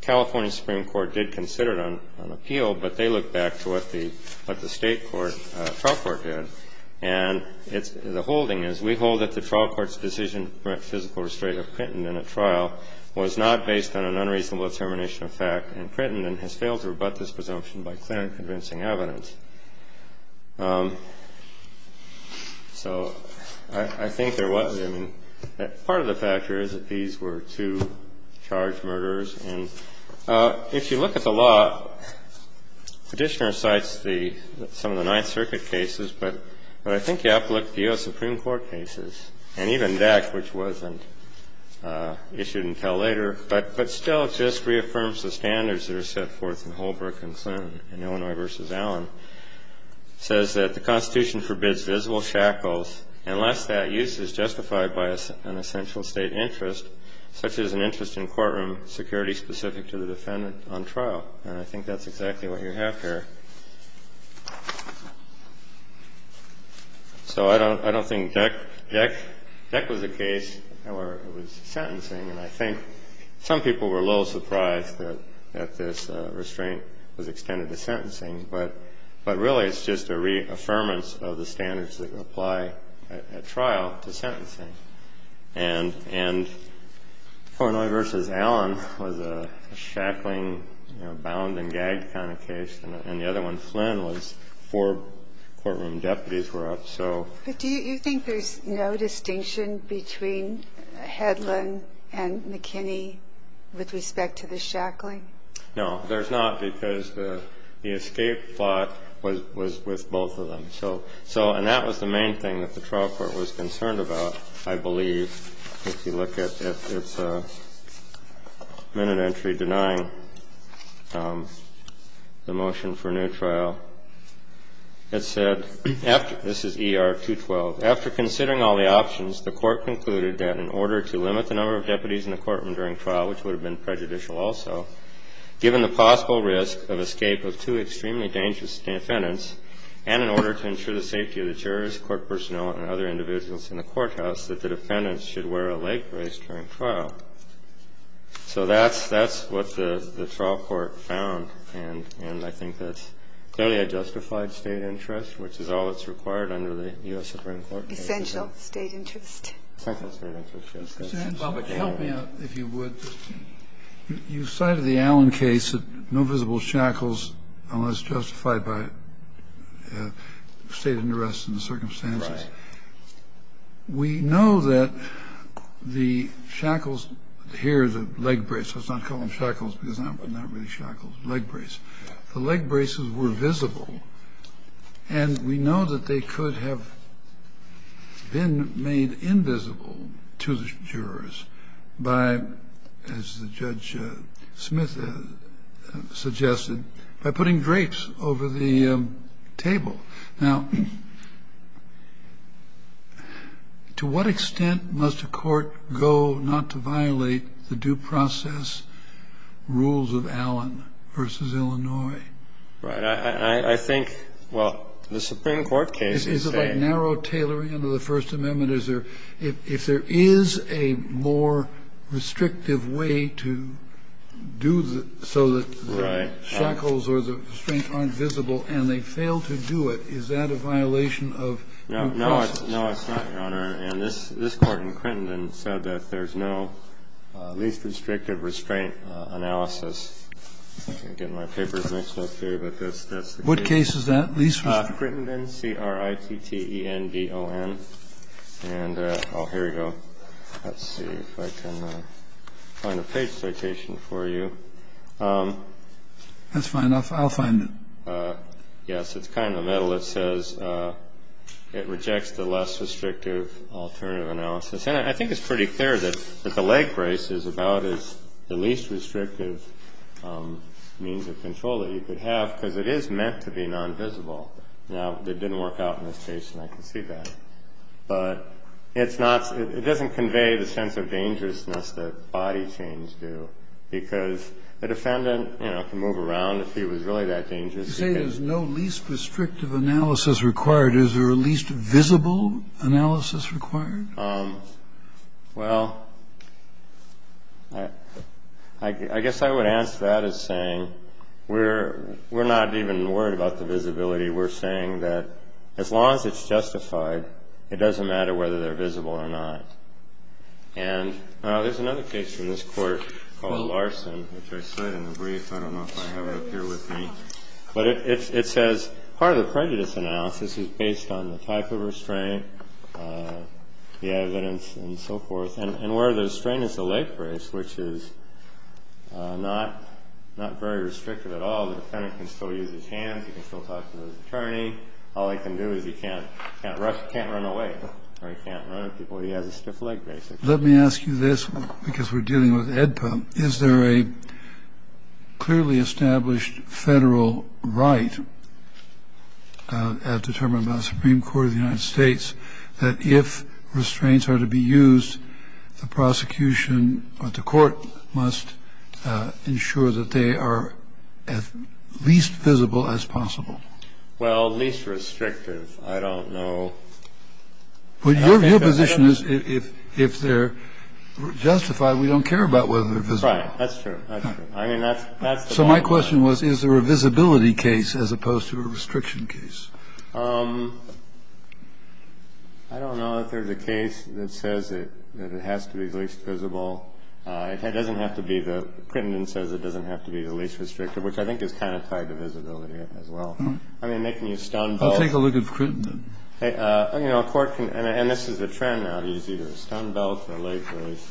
California Supreme Court did consider it on appeal, but they look back to what the state trial court did. And the holding is, we hold that the trial court's decision to prevent physical restraint of Crinton in a trial was not based on an unreasonable determination of fact, and Crinton has failed to rebut this presumption by clear and convincing evidence. So I think there was, I mean, part of the factor is that these were two charged murderers. And if you look at the law, the Petitioner cites some of the Ninth Circuit cases, but I think you have to look at the U.S. Supreme Court cases, and even that, which wasn't issued until later, but still just reaffirms the standards that are set forth in Holbrook and Clinton in Illinois v. Allen, says that the Constitution forbids visible shackles unless that use is justified by an essential state interest, such as an interest in courtroom security specific to the defendant on trial. And I think that's exactly what you have here. So I don't think DEC was the case, or it was sentencing, and I think some people were a little surprised that this restraint was extended to sentencing, but really it's just a reaffirmance of the standards that apply at trial to sentencing. And Illinois v. Allen was a shackling, you know, bound and gag kind of case, and the other one, Flynn, was four courtroom deputies were up, so. But do you think there's no distinction between Hedlund and McKinney with respect to the shackling? No, there's not, because the escape plot was with both of them. So, and that was the main thing that the trial court was concerned about, I believe, if you look at its minute entry denying the motion for a new trial. It said, this is ER-212, After considering all the options, the court concluded that in order to limit the number of deputies in the courtroom during trial, which would have been prejudicial also, given the possible risk of escape of two extremely dangerous defendants, and in order to ensure the safety of the jurors, court personnel, and other individuals in the courthouse, that the defendants should wear a leg brace during trial. So that's what the trial court found, and I think that's clearly a justified State interest, which is all that's required under the U.S. Supreme Court. Essential State interest. Essential State interest, yes. Help me out, if you would. You cited the Allen case, no visible shackles unless justified by State interests and the circumstances. Right. We know that the shackles here, the leg brace, let's not call them shackles because they're not really shackles, leg brace, the leg braces were visible, and we know that they could have been made invisible to the jurors by, as Judge Smith suggested, by putting drapes over the table. Now, to what extent must a court go not to violate the due process rules of Allen v. Illinois? Right. I think, well, the Supreme Court case is a... Is it like narrow tailoring under the First Amendment? Is there, if there is a more restrictive way to do so that... Right. ...the shackles or the restraint aren't visible and they fail to do it, is that a violation of due process? No. No, it's not, Your Honor. And this Court in Crittenden said that there's no least restrictive restraint analysis. Again, my paper is mixed up here, but that's the case. What case is that, least restrictive? Crittenden, C-R-I-T-T-E-N-D-O-N. And here we go. Let's see if I can find a page citation for you. That's fine. I'll find it. Yes, it's kind of in the middle. It says it rejects the less restrictive alternative analysis. And I think it's pretty clear that the leg brace is about as the least restrictive means of control that you could have, because it is meant to be non-visible. Now, it didn't work out in this case, and I can see that. But it's not – it doesn't convey the sense of dangerousness that body chains do, because the defendant, you know, can move around if he was really that dangerous. You say there's no least restrictive analysis required. Is there a least visible analysis required? Well, I guess I would answer that as saying we're not even worried about the visibility. We're saying that as long as it's justified, it doesn't matter whether they're visible or not. And there's another case from this Court called Larson, which I cite in the brief. I don't know if I have it up here with me. But it says part of the prejudice analysis is based on the type of restraint, the evidence, and so forth. And where the restraint is the leg brace, which is not very restrictive at all. The defendant can still use his hands. He can still talk to his attorney. All he can do is he can't run away, or he can't run at people. He has a stiff leg brace. Let me ask you this, because we're dealing with AEDPA. Is there a clearly established federal right determined by the Supreme Court of the United States that if restraints are to be used, the prosecution or the court must ensure that they are as least visible as possible? Well, least restrictive. I don't know. Your position is if they're justified, we don't care about whether they're visible. Right. That's true. That's true. I mean, that's the bottom line. So my question was, is there a visibility case as opposed to a restriction case? I don't know if there's a case that says that it has to be least visible. It doesn't have to be the – Crittenden says it doesn't have to be the least restrictive, which I think is kind of tied to visibility as well. I mean, they can use stone belts. I'll take a look at Crittenden. You know, a court can – and this is a trend now to use either a stone belt or a leg brace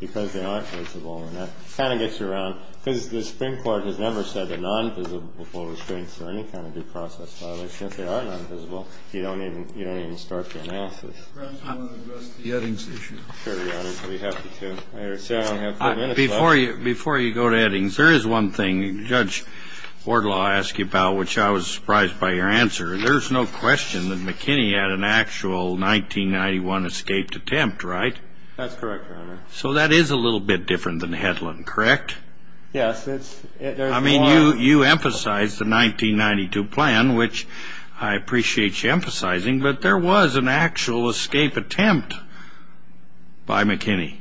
because they aren't visible. And that kind of gets you around – because the Supreme Court has never said that non-visible before restraints or any kind of due process violation. If they are non-visible, you don't even start the analysis. Mr. Brown, do you want to address the Eddings issue? Sure, Your Honor. I'd be happy to. I don't have four minutes left. Before you go to Eddings, there is one thing Judge Wardlaw asked you about, which I was surprised by your answer. There's no question that McKinney had an actual 1991 escaped attempt, right? That's correct, Your Honor. So that is a little bit different than Hedlund, correct? Yes. I mean, you emphasized the 1992 plan, which I appreciate you emphasizing, but there was an actual escape attempt by McKinney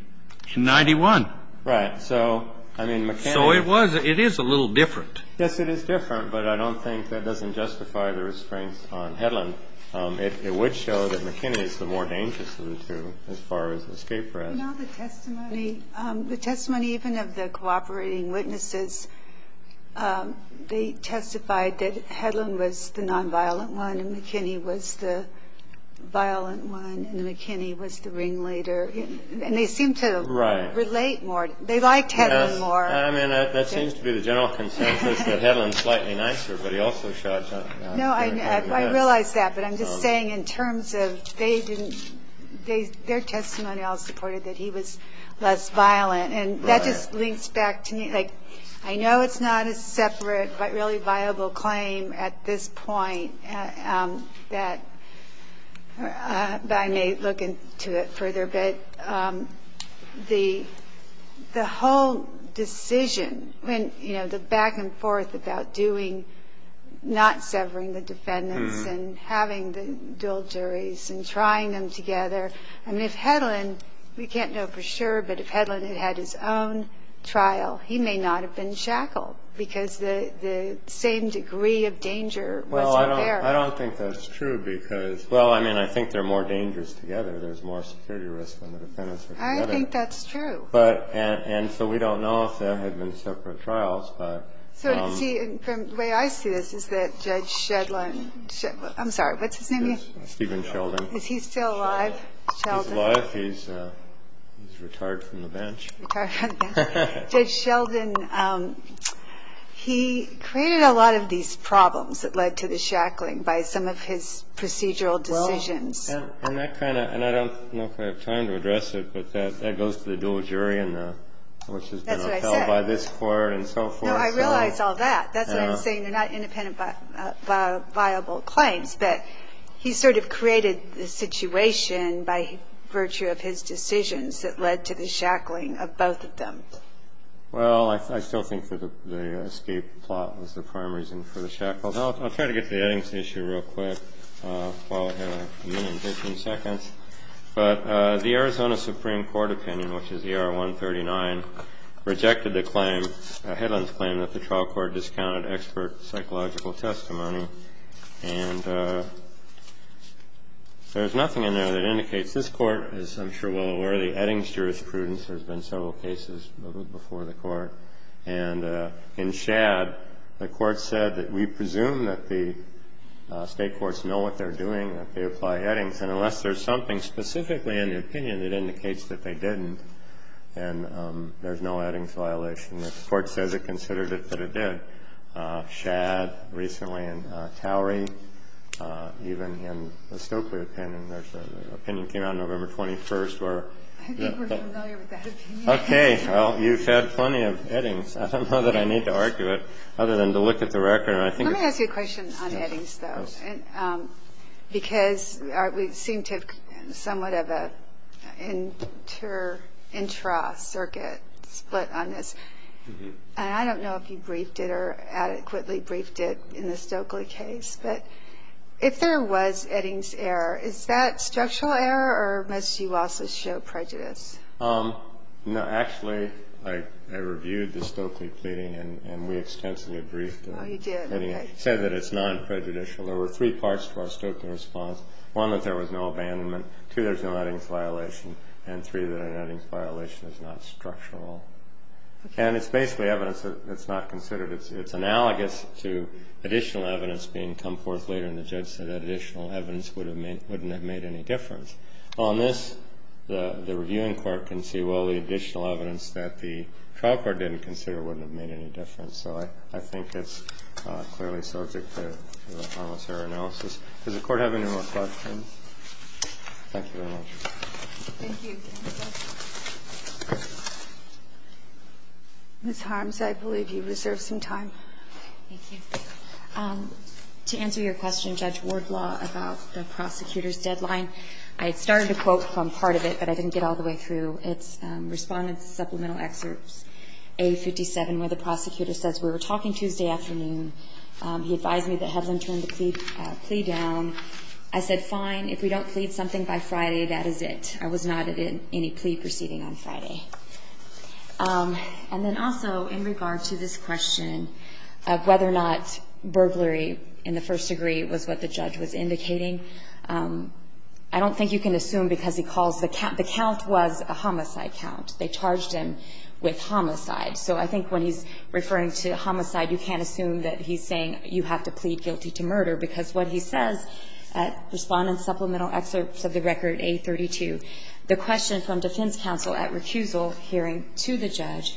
in 1991. Right. So, I mean, McKinney – So it was – it is a little different. Yes, it is different, but I don't think that doesn't justify the restraints on Hedlund. It would show that McKinney is the more dangerous of the two as far as the escape threat. Well, the testimony – the testimony even of the cooperating witnesses, they testified that Hedlund was the nonviolent one and McKinney was the violent one and McKinney was the ringleader. And they seemed to – Right. – relate more. They liked Hedlund more. I mean, that seems to be the general consensus, that Hedlund is slightly nicer, but he also shot – No, I realize that. But I'm just saying in terms of they didn't – their testimony all supported that he was less violent. Right. And that just links back to me. Like, I know it's not a separate but really viable claim at this point that – but I may look into it further. But the whole decision when – you know, the back and forth about doing – not severing the defendants and having the dual juries and trying them together. I mean, if Hedlund – we can't know for sure, but if Hedlund had had his own trial, he may not have been shackled because the same degree of danger was there. Well, I don't think that's true because – Well, I mean, I think they're more dangerous together. There's more security risk when the defendants are together. I think that's true. But – and so we don't know if there had been separate trials, but – The way I see this is that Judge Hedlund – I'm sorry, what's his name again? Stephen Sheldon. Is he still alive, Sheldon? He's alive. He's retired from the bench. Retired from the bench. Judge Sheldon, he created a lot of these problems that led to the shackling by some of his procedural decisions. And that kind of – and I don't know if I have time to address it, but that goes to the dual jury and the – which has been upheld by this court and so forth. No, I realize all that. That's what I'm saying. They're not independent, viable claims. But he sort of created the situation by virtue of his decisions that led to the shackling of both of them. Well, I still think that the escape plot was the prime reason for the shackles. I'll try to get to the Eddings issue real quick. I'll have a minute and 15 seconds. But the Arizona Supreme Court opinion, which is ER 139, rejected the claim. It's a headlines claim that the trial court discounted expert psychological testimony. And there's nothing in there that indicates this court is, I'm sure, well-aware of the Eddings jurisprudence. There's been several cases before the court. And in Shadd, the court said that we presume that the state courts know what they're doing, that they apply Eddings. And unless there's something specifically in the opinion that indicates that they didn't, then there's no Eddings violation. The court says it considered it, but it did. Shadd, recently, and Towery, even in the Stokely opinion, there's an opinion that came out November 21st where- I think we're familiar with that opinion. Okay. Well, you've had plenty of Eddings. I don't know that I need to argue it other than to look at the record. Let me ask you a question on Eddings, though. Because we seem to have somewhat of an intra-circuit split on this. And I don't know if you briefed it or adequately briefed it in the Stokely case. But if there was Eddings error, is that structural error, or must you also show prejudice? No. Actually, I reviewed the Stokely pleading, and we extensively briefed it. Oh, you did. It said that it's non-prejudicial. There were three parts to our Stokely response. One, that there was no abandonment. Two, there's no Eddings violation. And three, that an Eddings violation is not structural. Okay. And it's basically evidence that's not considered. It's analogous to additional evidence being come forth later, and the judge said that additional evidence wouldn't have made any difference. On this, the reviewing court can say, well, the additional evidence that the trial court didn't consider wouldn't have made any difference. So I think it's clearly subject to our analysis. Does the Court have any more questions? Thank you very much. Thank you. Ms. Harms, I believe you reserved some time. Thank you. To answer your question, Judge Wardlaw, about the prosecutor's deadline, I started a quote from part of it, but I didn't get all the way through. It's Respondent Supplemental Excerpt A57, where the prosecutor says, we were talking Tuesday afternoon. He advised me to have them turn the plea down. I said, fine, if we don't plead something by Friday, that is it. I was not at any plea proceeding on Friday. And then also, in regard to this question of whether or not burglary, in the first degree, was what the judge was indicating, I don't think you can assume because he calls the count, the count was a homicide count. They charged him with homicide. So I think when he's referring to homicide, you can't assume that he's saying you have to plead guilty to murder, because what he says at Respondent Supplemental Excerpt of the Record A32, the question from defense counsel at recusal hearing to the judge,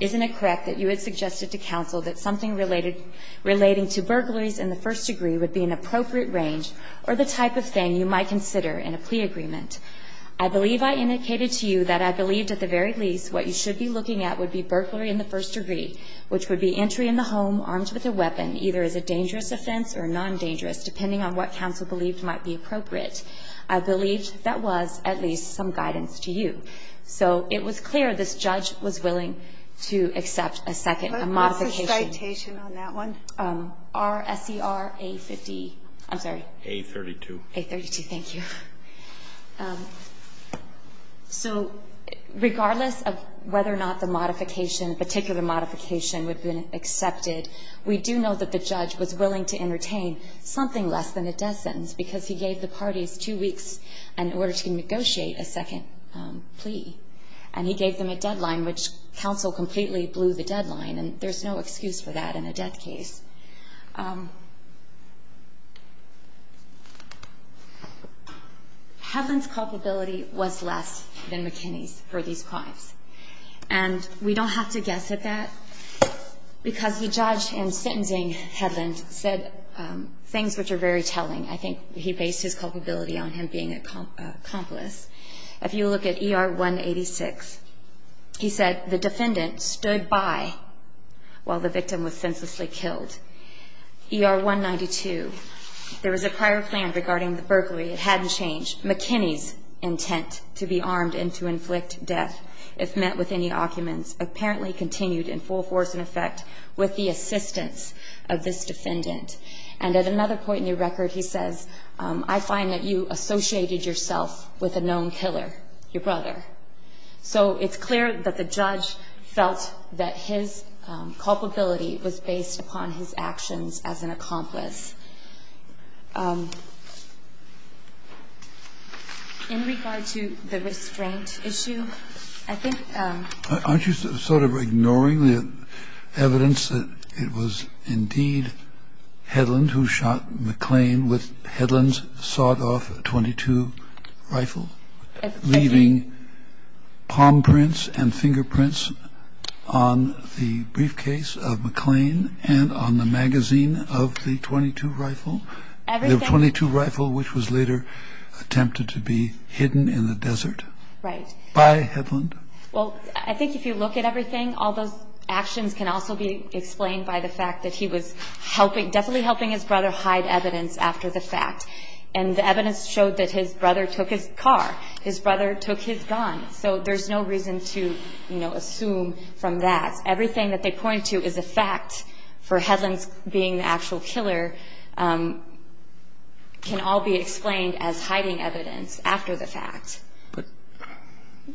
isn't it correct that you had suggested to counsel that something related, relating to burglaries in the first degree would be an appropriate range or the type of thing you might consider in a plea agreement? I believe I indicated to you that I believed at the very least what you should be looking at would be burglary in the first degree, which would be entry in the home armed with a weapon, either as a dangerous offense or non-dangerous, depending on what counsel believed might be appropriate. I believe that was at least some guidance to you. So it was clear this judge was willing to accept a second modification. I'm sorry. A32. A32. Thank you. So regardless of whether or not the modification, particular modification, would have been accepted, we do know that the judge was willing to entertain something less than a death sentence, because he gave the parties two weeks in order to negotiate a second plea. And he gave them a deadline, which counsel completely blew the deadline, and there's no excuse for that in a death case. Hedlund's culpability was less than McKinney's for these crimes. And we don't have to guess at that, because the judge in sentencing Hedlund said things which are very telling. I think he based his culpability on him being an accomplice. If you look at ER 186, he said the defendant stood by while the victim was senselessly killed. ER 192, there was a prior plan regarding the burglary. It hadn't changed. McKinney's intent to be armed and to inflict death, if met with any arguments, apparently continued in full force and effect with the assistance of this defendant. And at another point in the record, he says, I find that you associated yourself with a known killer, your brother. So it's clear that the judge felt that his culpability was based upon his actions as an accomplice. In regard to the restraint issue, I think the judge's intent to be armed and to inflict And the judge's intent to be armed and to inflict death, I think is based on the fact that Hedlund, who shot McClain, Hedlund sawed off a .22 rifle, leaving palm prints and fingerprints on the briefcase of McClain and on the magazine of the .22 rifle, which was later attempted to be hidden in the desert by Hedlund. Well, I think if you look at everything, all those actions can also be explained by the fact that he was definitely helping his brother hide evidence after the fact. And the evidence showed that his brother took his car. His brother took his gun. So there's no reason to assume from that. Everything that they point to is a fact for Hedlund being the actual killer. And so I think that the fact that he was the actual killer can all be explained as hiding evidence after the fact.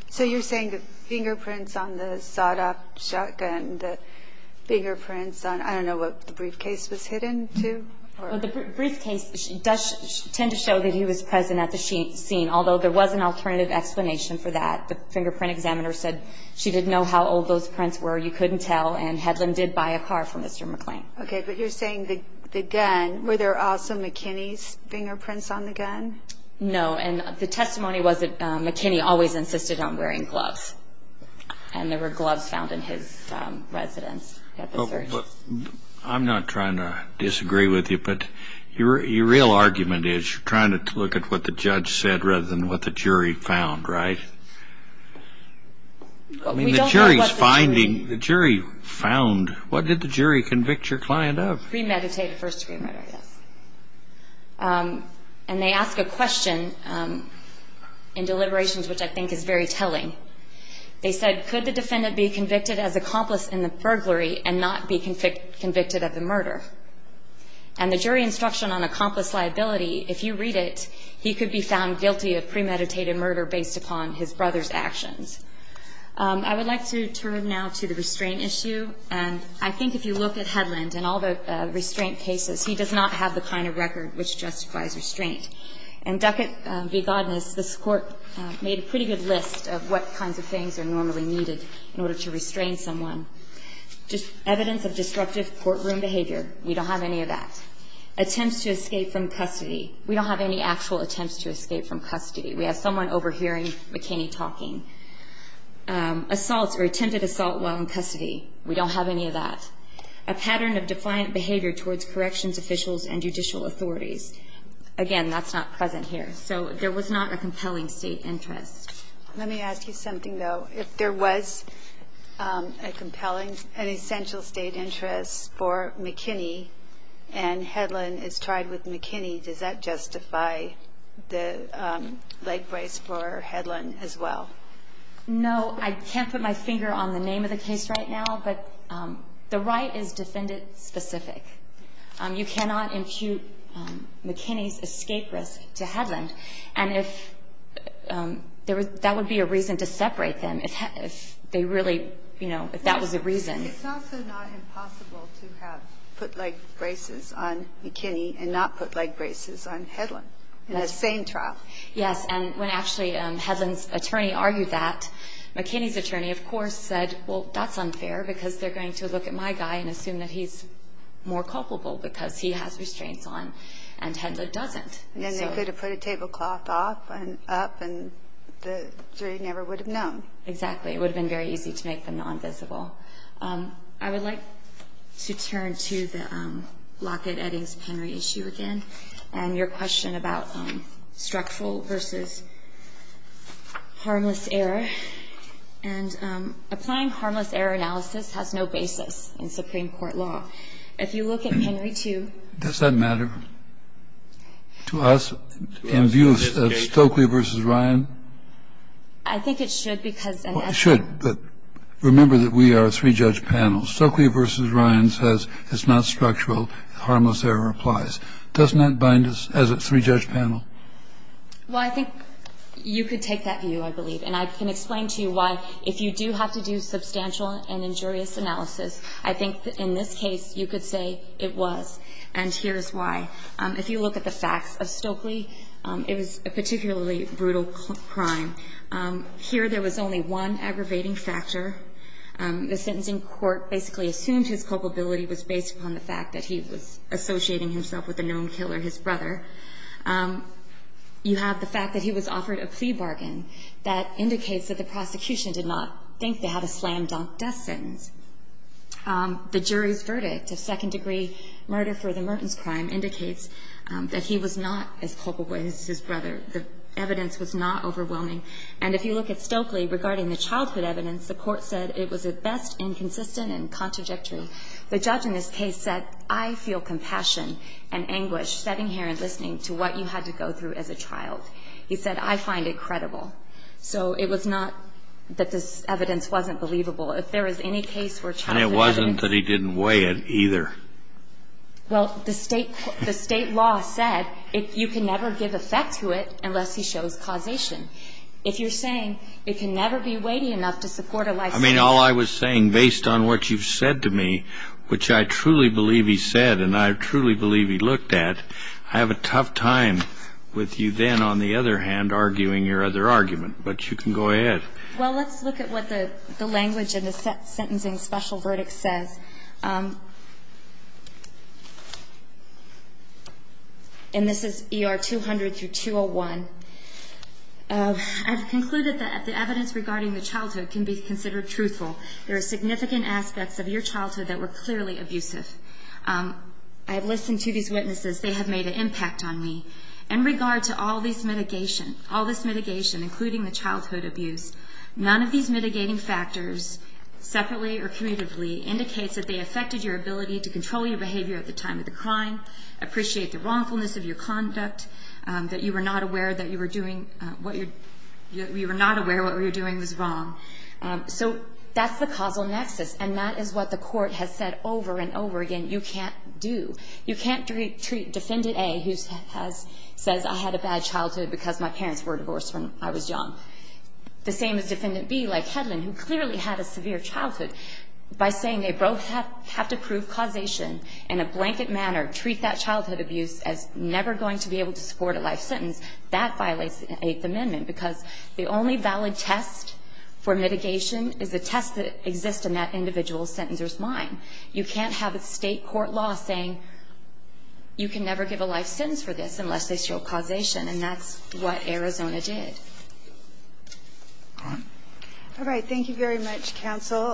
So you're saying the fingerprints on the sawed-off shotgun, the fingerprints on, I don't know, what the briefcase was hidden to? Well, the briefcase does tend to show that he was present at the scene, although there was an alternative explanation for that. The fingerprint examiner said she didn't know how old those prints were. You couldn't tell, and Hedlund did buy a car from Mr. McClain. Okay, but you're saying the gun, were there also McKinney's fingerprints on the gun? No, and the testimony was that McKinney always insisted on wearing gloves, and there were gloves found in his residence at the search. I'm not trying to disagree with you, but your real argument is you're trying to look at what the judge said rather than what the jury found, right? I mean, the jury's finding, the jury found. What did the jury convict your client of? Premeditated first-degree murder, yes. And they ask a question in deliberations which I think is very telling. They said, could the defendant be convicted as accomplice in the burglary and not be convicted of the murder? And the jury instruction on accomplice liability, if you read it, he could be found guilty of premeditated murder based upon his evidence. He could be found guilty of premeditated murder based upon his brother's actions. I would like to turn now to the restraint issue. And I think if you look at Hedlund and all the restraint cases, he does not have the kind of record which justifies restraint. In Duckett v. Godness, this Court made a pretty good list of what kinds of things are normally needed in order to restrain someone. Evidence of disruptive courtroom behavior, we don't have any of that. Attempts to escape from custody, we don't have any actual attempts to escape from custody. We have someone overhearing McKinney talking. Assaults or attempted assault while in custody, we don't have any of that. A pattern of defiant behavior towards corrections officials and judicial authorities, again, that's not present here. So there was not a compelling state interest. Let me ask you something, though. If there was a compelling and essential state interest for McKinney and Hedlund is tried with McKinney, does that justify the leg brace for Hedlund as well? No. I can't put my finger on the name of the case right now, but the right is defendant-specific. You cannot impute McKinney's escape risk to Hedlund. And that would be a reason to separate them if that was the reason. It's also not impossible to have foot-leg braces on McKinney and not foot-leg braces on Hedlund in the same trial. Yes. And when actually Hedlund's attorney argued that, McKinney's attorney, of course, said, well, that's unfair because they're going to look at my guy and assume that he's more culpable because he has restraints on and Hedlund doesn't. Then they could have put a tablecloth up and the jury never would have known. Exactly. It would have been very easy to make them nonvisible. I would like to turn to the Lockett-Eddings-Penry issue again and your question about structural versus harmless error. And applying harmless error analysis has no basis in Supreme Court law. If you look at Penry 2. Does that matter to us in view of Stokely v. Ryan? I think it should because and I think It should. But remember that we are a three-judge panel. Stokely v. Ryan says it's not structural. Harmless error applies. Doesn't that bind us as a three-judge panel? Well, I think you could take that view, I believe. And I can explain to you why if you do have to do substantial and injurious analysis, I think in this case you could say it was. And here's why. If you look at the facts of Stokely, it was a particularly brutal crime. Here there was only one aggravating factor. The sentencing court basically assumed his culpability was based upon the fact that he was associating himself with a known killer, his brother. You have the fact that he was offered a plea bargain that indicates that the prosecution did not think they had a slam-dunk death sentence. The jury's verdict of second-degree murder for the mertens crime indicates that he was not as culpable as his brother. The evidence was not overwhelming. And if you look at Stokely regarding the childhood evidence, the court said it was at best inconsistent and contrajectory. The judge in this case said, I feel compassion and anguish sitting here and listening to what you had to go through as a child. He said, I find it credible. So it was not that this evidence wasn't believable. If there is any case where childhood evidence was not believable. And it wasn't that he didn't weigh it either. Well, the state law said you can never give effect to it unless he shows causation. If you're saying it can never be weighty enough to support a life sentence. I mean, all I was saying, based on what you've said to me, which I truly believe he said and I truly believe he looked at, I have a tough time with you then, on the other hand, arguing your other argument. But you can go ahead. Well, let's look at what the language in the sentencing special verdict says. And this is ER 200 through 201. I've concluded that the evidence regarding the childhood can be considered truthful. There are significant aspects of your childhood that were clearly abusive. I have listened to these witnesses. They have made an impact on me. In regard to all this mitigation, including the childhood abuse, none of these mitigating factors separately or commutatively indicates that they affected your ability to control your behavior at the time of the crime, appreciate the wrongfulness of your conduct, that you were not aware that what you were doing was wrong. So that's the causal nexus. And that is what the court has said over and over again, you can't do. You can't treat Defendant A, who says I had a bad childhood because my parents were divorced when I was young, the same as Defendant B, like Hedlund, who clearly had a severe childhood, by saying they both have to prove causation in a blanket manner, treat that childhood abuse as never going to be able to support a life sentence. That violates the Eighth Amendment, because the only valid test for mitigation is a test that exists in that individual sentencer's mind. You can't have a state court law saying you can never give a life sentence for this unless they show causation, and that's what Arizona did. All right. All right. Thank you very much, counsel.